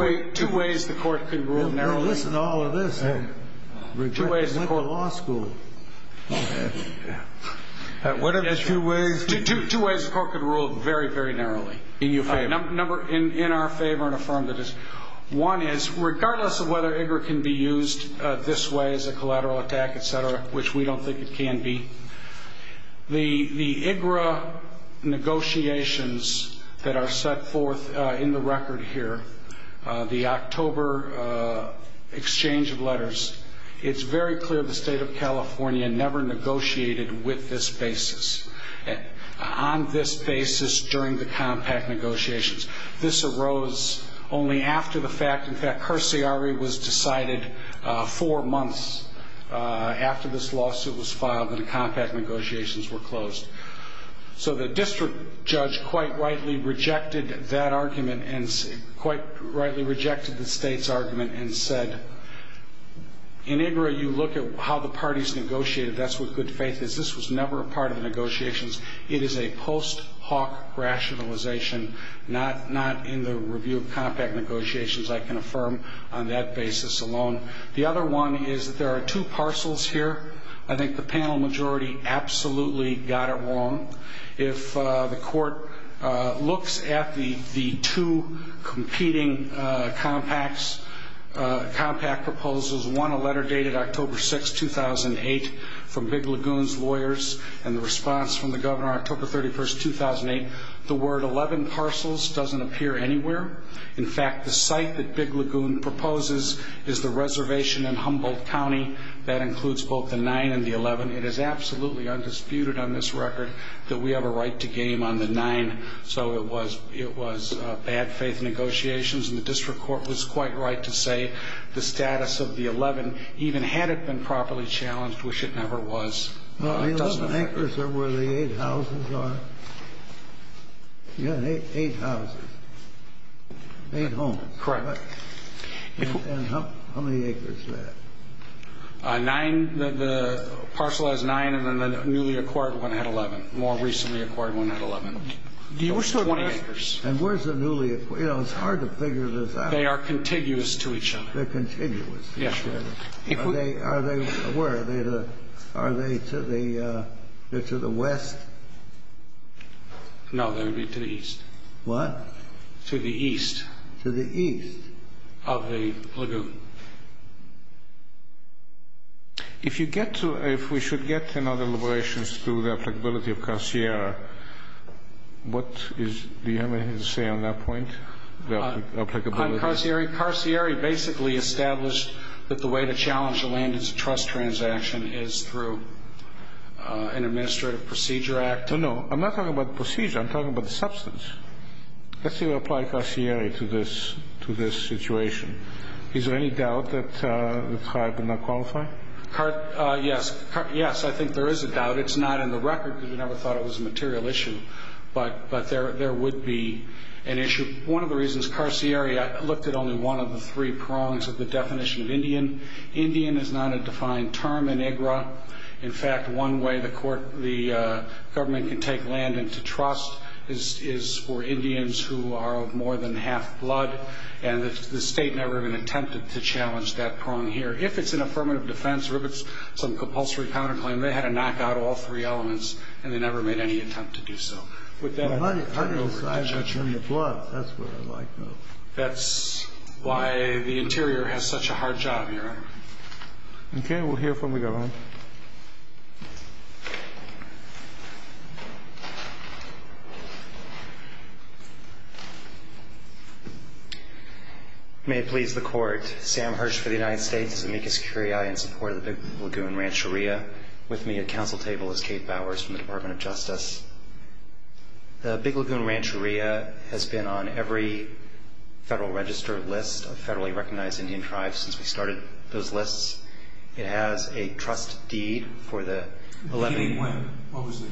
ways the court can rule narrowly. Listen to all of this. Two ways— We just went to a law school. What are those two ways? Two ways the court could rule very, very narrowly. In your favor. In our favor and affirmative. One is, regardless of whether IGRA can be used this way as a collateral attack, et cetera, which we don't think it can be, the IGRA negotiations that are set forth in the record here, the October exchange of letters, it's very clear the state of California never negotiated with this basis, on this basis during the compact negotiations. This arose only after the fact. In fact, her CRE was decided four months after this lawsuit was filed and compact negotiations were closed. So the district judge quite rightly rejected that argument and quite rightly rejected the state's argument and said, in IGRA you look at how the parties negotiated. That's what good faith is. This was never a part of negotiations. It is a post hoc rationalization, not in the review of compact negotiations. I can affirm on that basis alone. The other one is that there are two parcels here. I think the panel majority absolutely got it wrong. If the court looks at the two competing compact proposals, one a letter dated October 6, 2008 from Big Lagoon's lawyers and the response from the governor October 31, 2008, the word 11 parcels doesn't appear anywhere. In fact, the site that Big Lagoon proposes is the reservation in Humboldt County. That includes both the 9 and the 11. It is absolutely undisputed on this record that we have a right to game on the 9. So it was bad faith negotiations, and the district court was quite right to say the status of the 11, even had it been properly challenged, which it never was. The acres are where the eight houses are. Yeah, eight houses. Eight homes. Correct. And how many acres are there? Nine. The parcel has nine, and then the newly acquired one had 11. More recently acquired one had 11. And where's the newly acquired? You know, it's hard to figure this out. They are contiguous to each other. They're contiguous. Yes. Where are they? Are they to the west? No, they would be to the east. What? To the east. To the east. Of the lagoon. If we should get another liberation through the applicability of Carcier, do you have anything to say on that point, the applicability? Well, Carcier basically established that the way to challenge the land as a trust transaction is through an administrative procedure act. No, no. I'm not talking about the procedure. I'm talking about the substance. Let's say we apply Carcier to this situation. Is there any doubt that the tribe would not qualify? Yes. Yes, I think there is a doubt. It's not in the record because we never thought it was a material issue, but there would be an issue. One of the reasons Carcier looked at only one of the three prongs of the definition of Indian. Indian is not a defined term in IGRA. In fact, one way the government can take land into trust is for Indians who are of more than half blood, and the state never even attempted to challenge that prong here. If it's an affirmative defense or if it's some compulsory counterclaim, they had to knock out all three elements, and they never made any attempt to do so. That's why the interior has such a hard job here. Okay. We'll hear from the governor. May it please the court. Sam Hirsch for the United States, Amicus Curiae in support of the Lagoon Rancheria. With me at the council table is Kate Bowers from the Department of Justice. The Big Lagoon Rancheria has been on every federal registered list of federally recognized Indian tribes since we started those lists. It has a trust deed for the 11th. What was the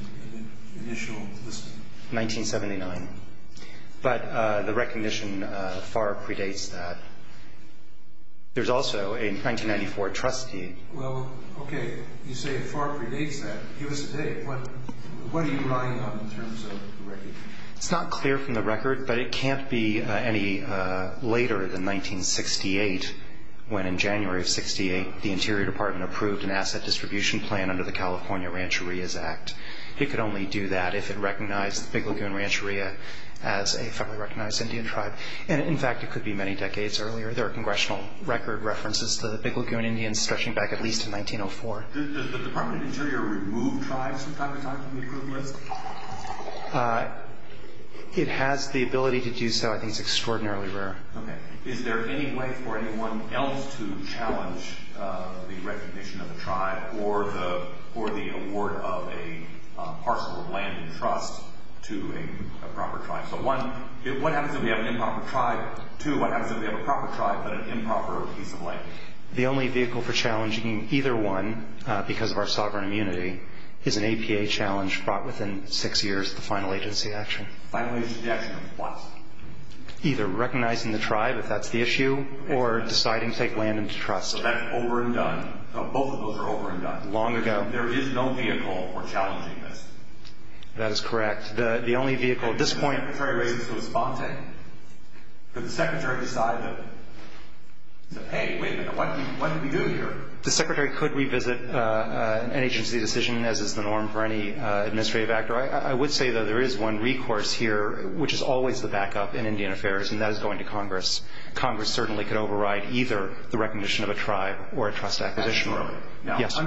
initial list? 1979. But the recognition far predates that. There's also a 1994 trust deed. Well, okay. You say it far predates that. Give us a date. What are you relying upon in terms of the record? It's not clear from the record, but it can't be any later than 1968 when, in January of 68, the Interior Department approved an asset distribution plan under the California Rancherias Act. It could only do that if it recognized the Big Lagoon Rancheria as a federally recognized Indian tribe. In fact, it could be many decades earlier. There are congressional record references to the Big Lagoon Indians stretching back at least to 1904. Does the Department of the Interior remove tribes from time to time from the equivalent? It has the ability to do so. I think it's extraordinarily rare. Okay. Is there any way for anyone else to challenge the recognition of a tribe or the award of a parcel of land in trust to a proper tribe? So, one, what happens if we have an improper tribe? Two, what happens if we have a proper tribe but an improper receipt of land? The only vehicle for challenging either one, because of our sovereign immunity, is an APA challenge brought within six years of the final agency action. Final agency action is what? Either recognizing the tribe, if that's the issue, or deciding to take land into trust. So that's over and done. Both of those are over and done. Long ago. There is no vehicle for challenging this. That is correct. The only vehicle at this point. The Secretary could revisit an agency decision, as is the norm for any administrative actor. I would say that there is one recourse here, which is always the backup in Indian Affairs, and that is going to Congress. Congress certainly could override either the recognition of a tribe or a trust acquisition. Yes.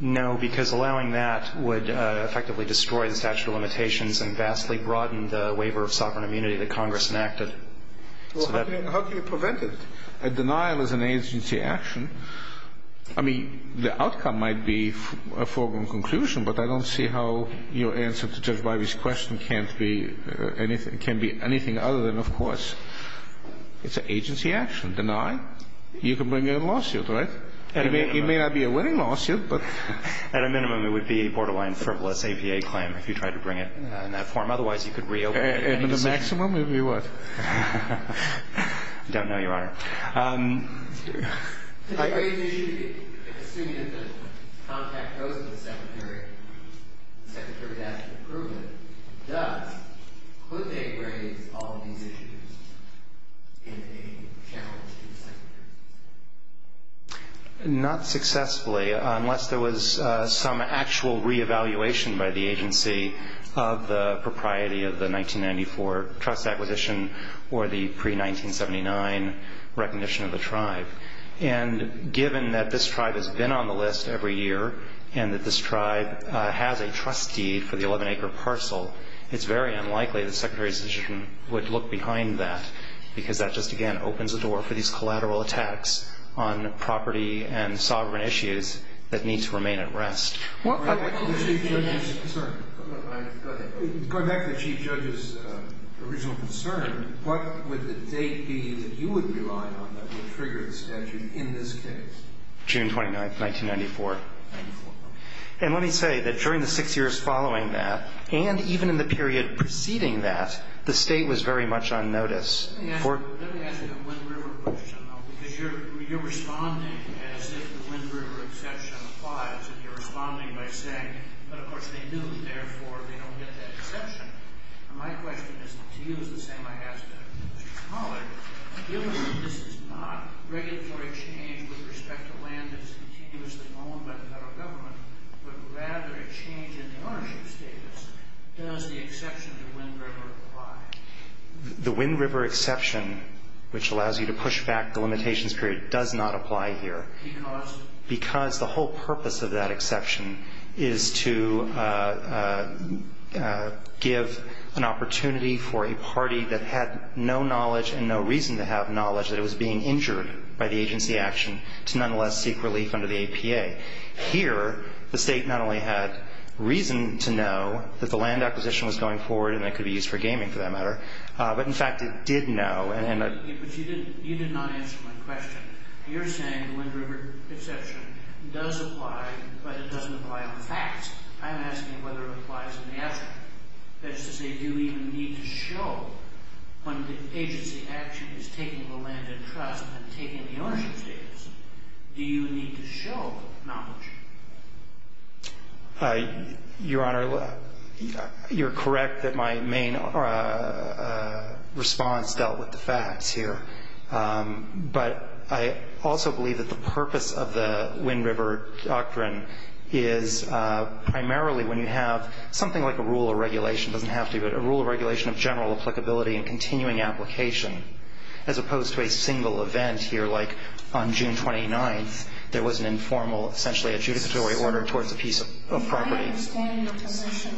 No, because allowing that would effectively destroy the statute of limitations and vastly broaden the waiver of sovereign immunity that Congress enacted. How do you prevent it? A denial is an agency action. I mean, the outcome might be a foregone conclusion, but I don't see how your answer to Judge Breyer's question can be anything other than, of course, it's an agency action. Denial? You can bring in a lawsuit, right? It may not be a winning lawsuit. At a minimum, it would be a borderline frivolous APA claim, if you tried to bring it in that form. Otherwise, you could reopen it. And the maximum would be what? I don't know, Your Honor. Are you assuming that the contact wrote to the Secretary and the Secretary asked for approval of it? If that's the case, could they raise all of these issues? Not successfully, unless there was some actual reevaluation by the agency of the propriety of the 1994 trust acquisition or the pre-1979 recognition of the tribe. And given that this tribe has been on the list every year and that this tribe has a trust key for the 11-acre parcel, it's very unlikely that the Secretary's position would look behind that because that just, again, opens the door for these collateral attacks on property and sovereign issues that need to remain at rest. I'm sorry. Go ahead. Going back to the Chief Judge's original concern, what would the date be that you would rely on for the trigger extension in this case? June 29, 1994. And let me say that during the six years following that and even in the period preceding that, the State was very much on notice. Let me ask a little bit of a Wind River question. You're responding as if the Wind River exception applies. You're responding by saying that, of course, they knew it there before and they don't need that exception. My question is to you the same I asked it. If this is not a regulatory change with respect to land use and continuous enrollment by the federal government, but rather a change in funding statements, does the exception to the Wind River apply? The Wind River exception, which allows you to push back the limitations period, does not apply here because the whole purpose of that exception is to give an opportunity for a party that had no knowledge and no reason to have knowledge that it was being injured by the agency action to nonetheless seek relief under the APA. Here, the State not only had reason to know that the land acquisition was going forward and could be used for gaming, for that matter, but, in fact, it did know. But you did not answer my question. You're saying the Wind River exception does apply, but it doesn't apply on the facts. I'm asking whether it applies on the evidence. That is to say, do we even need to show when the agency action is taking the land in trust and taking the earnings statements, do you need to show knowledge? Your Honor, you're correct that my main response dealt with the facts here. But I also believe that the purpose of the Wind River doctrine is primarily when you have something like a rule of regulation, doesn't have to be, but a rule of regulation of general applicability and continuing application, as opposed to a single event here like on June 29th, when there was an informal, essentially a judicatory order towards the piece of property. My understanding of the position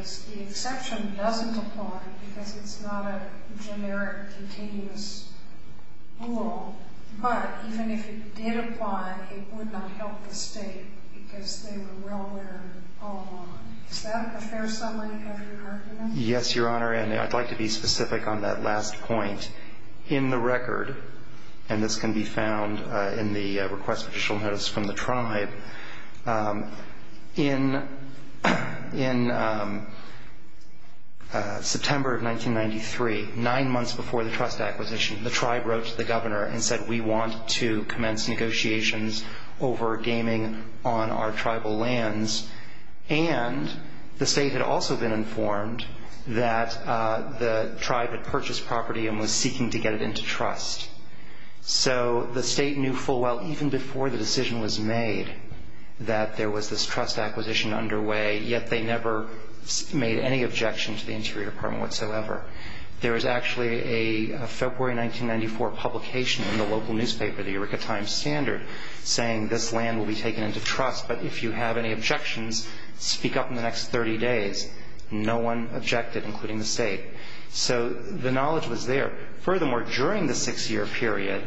is the exception doesn't apply because it's not a generic, continuous rule. But even if it did apply, it would not help the State because they were well aware of the problem. Does that compare somewhat to your argument? Yes, Your Honor, and I'd like to be specific on that last point. In the record, and this can be found in the request for additional notice from the tribe, in September of 1993, nine months before the trust acquisition, the tribe wrote to the Governor and said, we want to commence negotiations over gaming on our tribal lands. And the State had also been informed that the tribe had purchased property and was seeking to get it into trust. So the State knew full well, even before the decision was made, that there was this trust acquisition underway, yet they never made any objections to the Interior Department whatsoever. There was actually a February 1994 publication in the local newspaper, the Eureka Times Standard, saying this land will be taken into trust, but if you have any objections, speak up in the next 30 days. No one objected, including the State. So the knowledge was there. Furthermore, during the six-year period,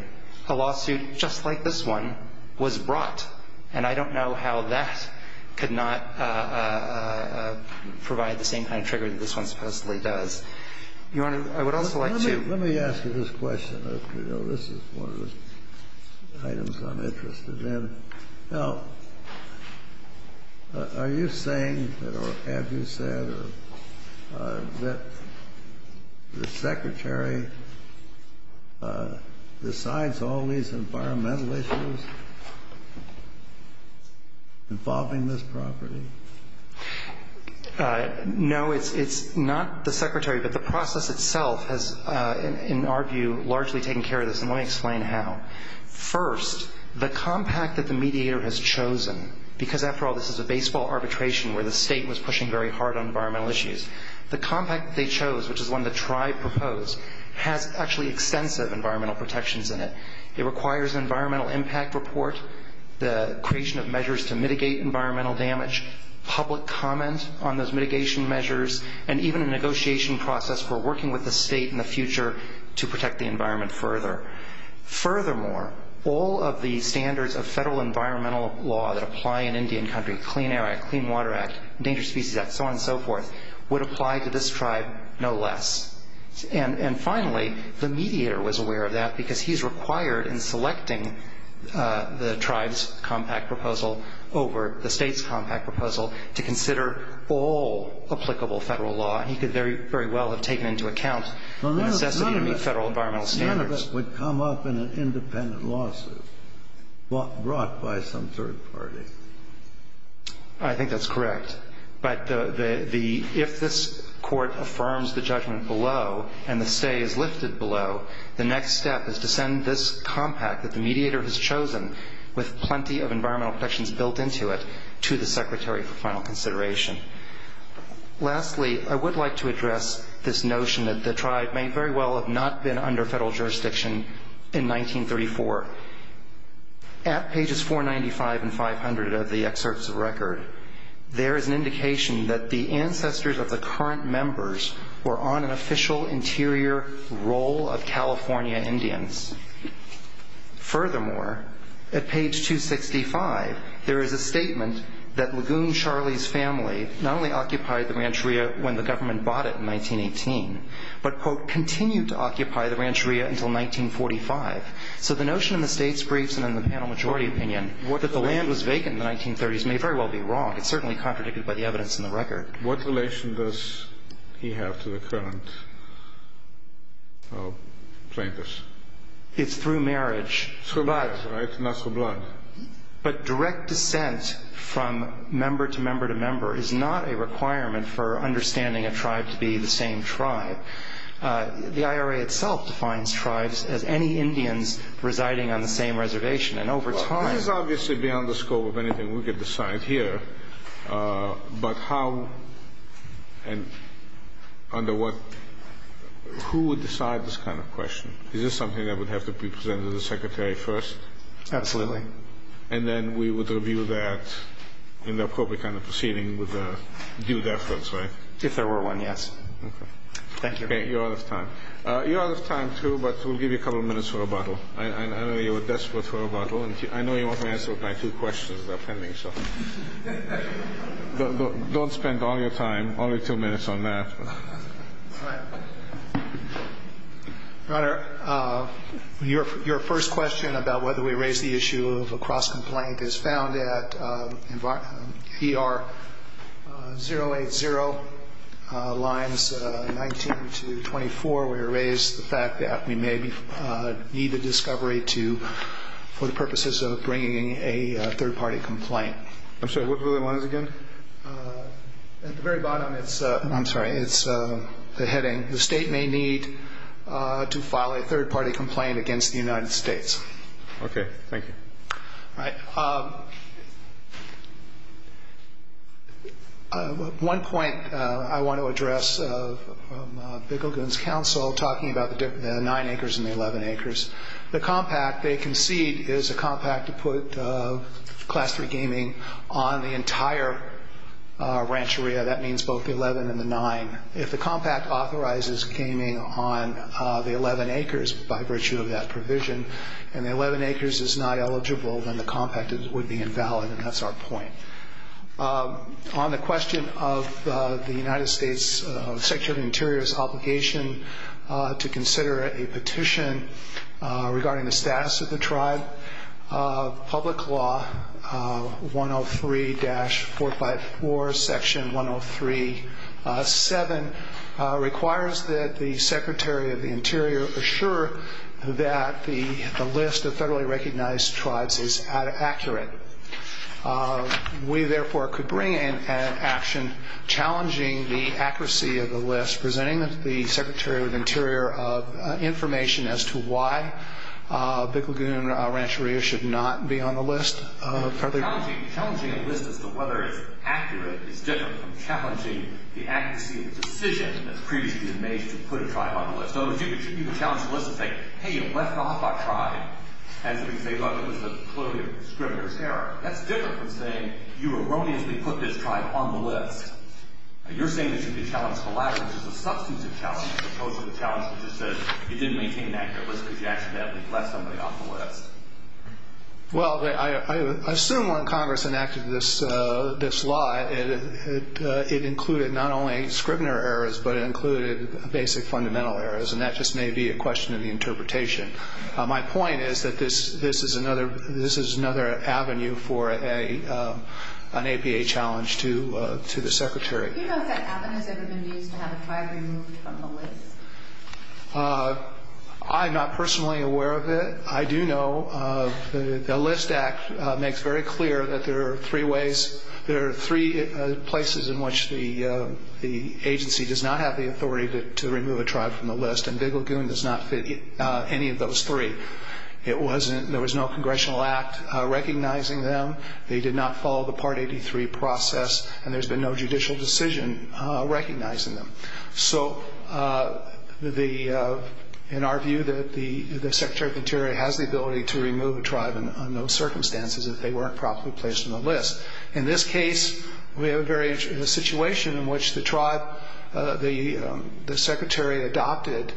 a lawsuit just like this one was brought, and I don't know how that could not provide the same kind of trigger that this one supposedly does. Your Honor, I would also like to... Let me ask you this question. This is one of the items I'm interested in. Now, are you saying, or have you said, that the Secretary decides all these environmental issues involving this property? No, it's not the Secretary, but the process itself has, in our view, largely taken care of this, and let me explain how. First, the compact that the mediator has chosen, because, after all, this is a baseball arbitration where the State was pushing very hard on environmental issues. The compact they chose, which is one the tribe proposed, had actually extensive environmental protections in it. It requires an environmental impact report, the creation of measures to mitigate environmental damage, public comment on those mitigation measures, and even a negotiation process for working with the State in the future to protect the environment further. Furthermore, all of the standards of federal environmental law that apply in Indian Country, Clean Air Act, Clean Water Act, Endangered Species Act, so on and so forth, would apply to this tribe no less. And finally, the mediator was aware of that because he's required in selecting the tribe's compact proposal over the State's compact proposal to consider all applicable federal law, and he could very well have taken into account that that's going to be federal environmental standards. None of that would come up in an independent lawsuit brought by some third party. I think that's correct. But if this Court affirms the judgment below and the say is listed below, the next step is to send this compact that the mediator has chosen with plenty of environmental protections built into it to the Secretary for final consideration. Lastly, I would like to address this notion that the tribe may very well have not been under federal jurisdiction in 1934. At pages 495 and 500 of the excerpts of the record, there is an indication that the ancestors of the current members were on an official interior roll of California Indians. Furthermore, at page 265, there is a statement that Lagoon Charlie's family not only occupied the Rancheria when the government bought it in 1918, but, quote, continued to occupy the Rancheria until 1945. So the notion in the State's briefs and in the panel majority opinion that the land was vacant in the 1930s may very well be wrong. It's certainly contradicted by the evidence in the record. What relation does he have to the current plaintiffs? It's through marriage. It's for blood. It's not for blood. But direct dissent from member to member to member is not a requirement for understanding a tribe to be the same tribe. The IRA itself defines tribes as any Indians residing on the same reservation. And over time – Well, time is obviously beyond the scope of anything we could decide here. But how and under what – who would decide this kind of question? Is this something that would have to be presented to the Secretary first? Absolutely. And then we would review that in the appropriate kind of proceeding with due deference, right? If there were one, yes. Okay. Thank you. You're out of time. You're out of time, too, but we'll give you a couple minutes for a bottle. I know you were desperate for a bottle, and I know you want to answer my two questions that are pending, so. Don't spend all your time, only two minutes on that. All right. Your Honor, your first question about whether we raise the issue of a cross-complaint is found at PR 080 lines 19 to 24. We raise the fact that we may need a discovery to – for the purposes of bringing a third-party complaint. I'm sorry, what were the ones again? At the very bottom, it's – I'm sorry, it's the heading. The state may need to file a third-party complaint against the United States. Okay. Thank you. All right. One point I want to address from Bickleton's counsel, talking about the nine acres and the 11 acres, the compact they concede is a compact to put class-three gaming on the entire ranch area. That means both the 11 and the 9. If the compact authorizes gaming on the 11 acres by virtue of that provision and the 11 acres is not eligible, then the compact would be invalid, and that's our point. On the question of the United States Secretary of the Interior's obligation to consider a petition regarding the status of the tribe, Public Law 103-454, Section 103.7 requires that the Secretary of the Interior assure that the list of federally recognized tribes is accurate. We, therefore, could bring in an action challenging the accuracy of the list, presenting the Secretary of the Interior information as to why Bickleton Ranch Area should not be on the list. Challenging the list as to whether it is accurate is different from challenging the accuracy of the decision that previously had been made to put a tribe on the list. So you should be challenging the list to say, hey, it was left off by a tribe, and they left it as a discriminator's error. That's different from saying you erroneously put this tribe on the list. You're saying this is a challenge to the license. It's a substantive challenge as opposed to the challenge which is that you didn't maintain an accurate list and you actually left somebody off the list. Well, I assume when Congress enacted this law, it included not only discriminator errors, but it included basic fundamental errors, and that just may be a question of the interpretation. My point is that this is another avenue for an APA challenge to the Secretary. Do you know if that avenue has ever been used to have a tribe removed from the list? I'm not personally aware of it. I do know the List Act makes very clear that there are three ways, in which the agency does not have the authority to remove a tribe from the list, and Big Lagoon does not fit any of those three. There was no congressional act recognizing them. They did not follow the Part 83 process, and there's been no judicial decision recognizing them. So in our view, the Secretary of the Interior has the ability to remove a tribe under those circumstances if they weren't properly placed on the list. In this case, we have a situation in which the Secretary adopted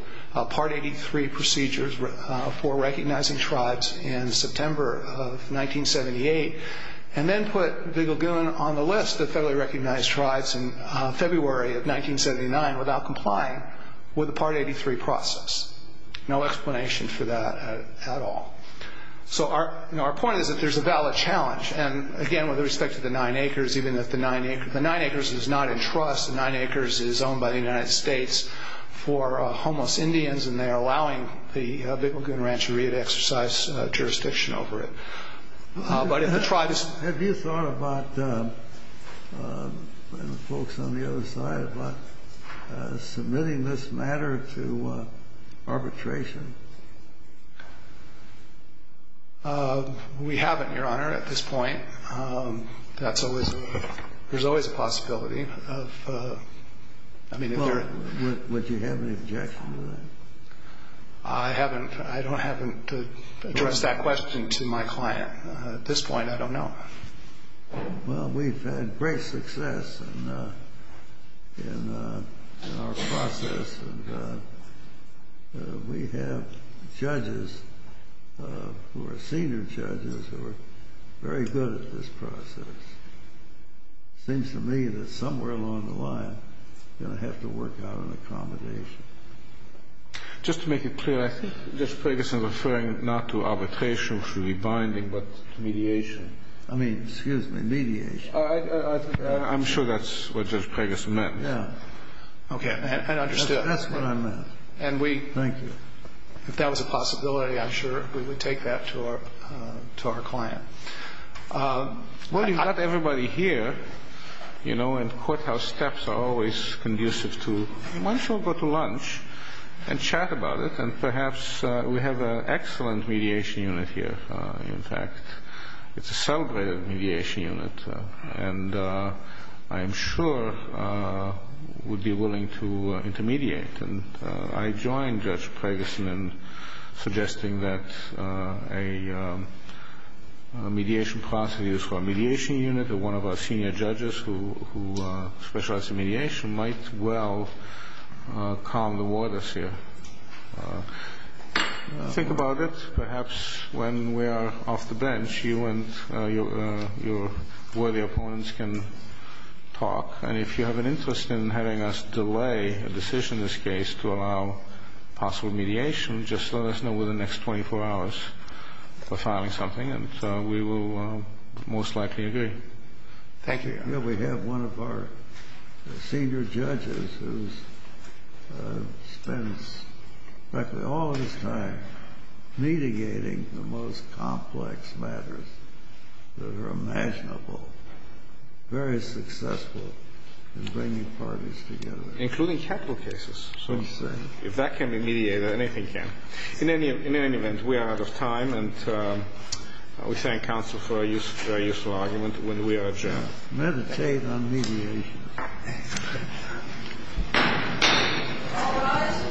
Part 83 procedures for recognizing tribes in September of 1978, and then put Big Lagoon on the list of federally recognized tribes in February of 1979 without complying with the Part 83 process. No explanation for that at all. So our point is that there's a valid challenge. And again, with respect to the nine acres, even if the nine acres is not in trust, the nine acres is owned by the United States for homeless Indians, and they're allowing the Big Lagoon Rancheria to exercise jurisdiction over it. Have you thought about, and the folks on the other side, about submitting this matter to arbitration? We haven't, Your Honor, at this point. There's always a possibility. Would you have any objections to that? I don't happen to address that question to my client. At this point, I don't know. Well, we've had great success in our process, and we have judges who are senior judges who are very good at this process. It seems to me that somewhere along the line, we're going to have to work out an accommodation. Just to make it clear, I think Judge Ferguson is referring not to arbitration, to rebinding, but to mediation. I mean, excuse me, mediation. I'm sure that's what Judge Ferguson meant. Okay, I understood. That's what I meant. Thank you. If that was a possibility, I'm sure we would take that to our client. Well, you've got everybody here, and courthouse steps are always conducive to, why don't you all go to lunch and chat about it, and perhaps we have an excellent mediation unit here. In fact, it's a celebrated mediation unit, and I'm sure we'd be willing to intermediate. I joined Judge Ferguson in suggesting that a mediation process for a mediation unit, or one of our senior judges who specializes in mediation, might well calm the waters here. Think about it. Perhaps when we are off the bench, you and your worthy opponents can talk, and if you have an interest in having us delay a decision in this case to allow possible mediation, just let us know within the next 24 hours. We'll find something, and we will most likely agree. Thank you. I know we have one of our senior judges who spends practically all his time mediating the most complex matters that are imaginable, very successful in bringing parties together. Including capital cases, so to speak. If that can be mediated, anything can. In any event, we are out of time, and we thank counsel for a useful argument when we are adjourned. Meditate on mediation. All rise. Judge Ferguson has been adjourned.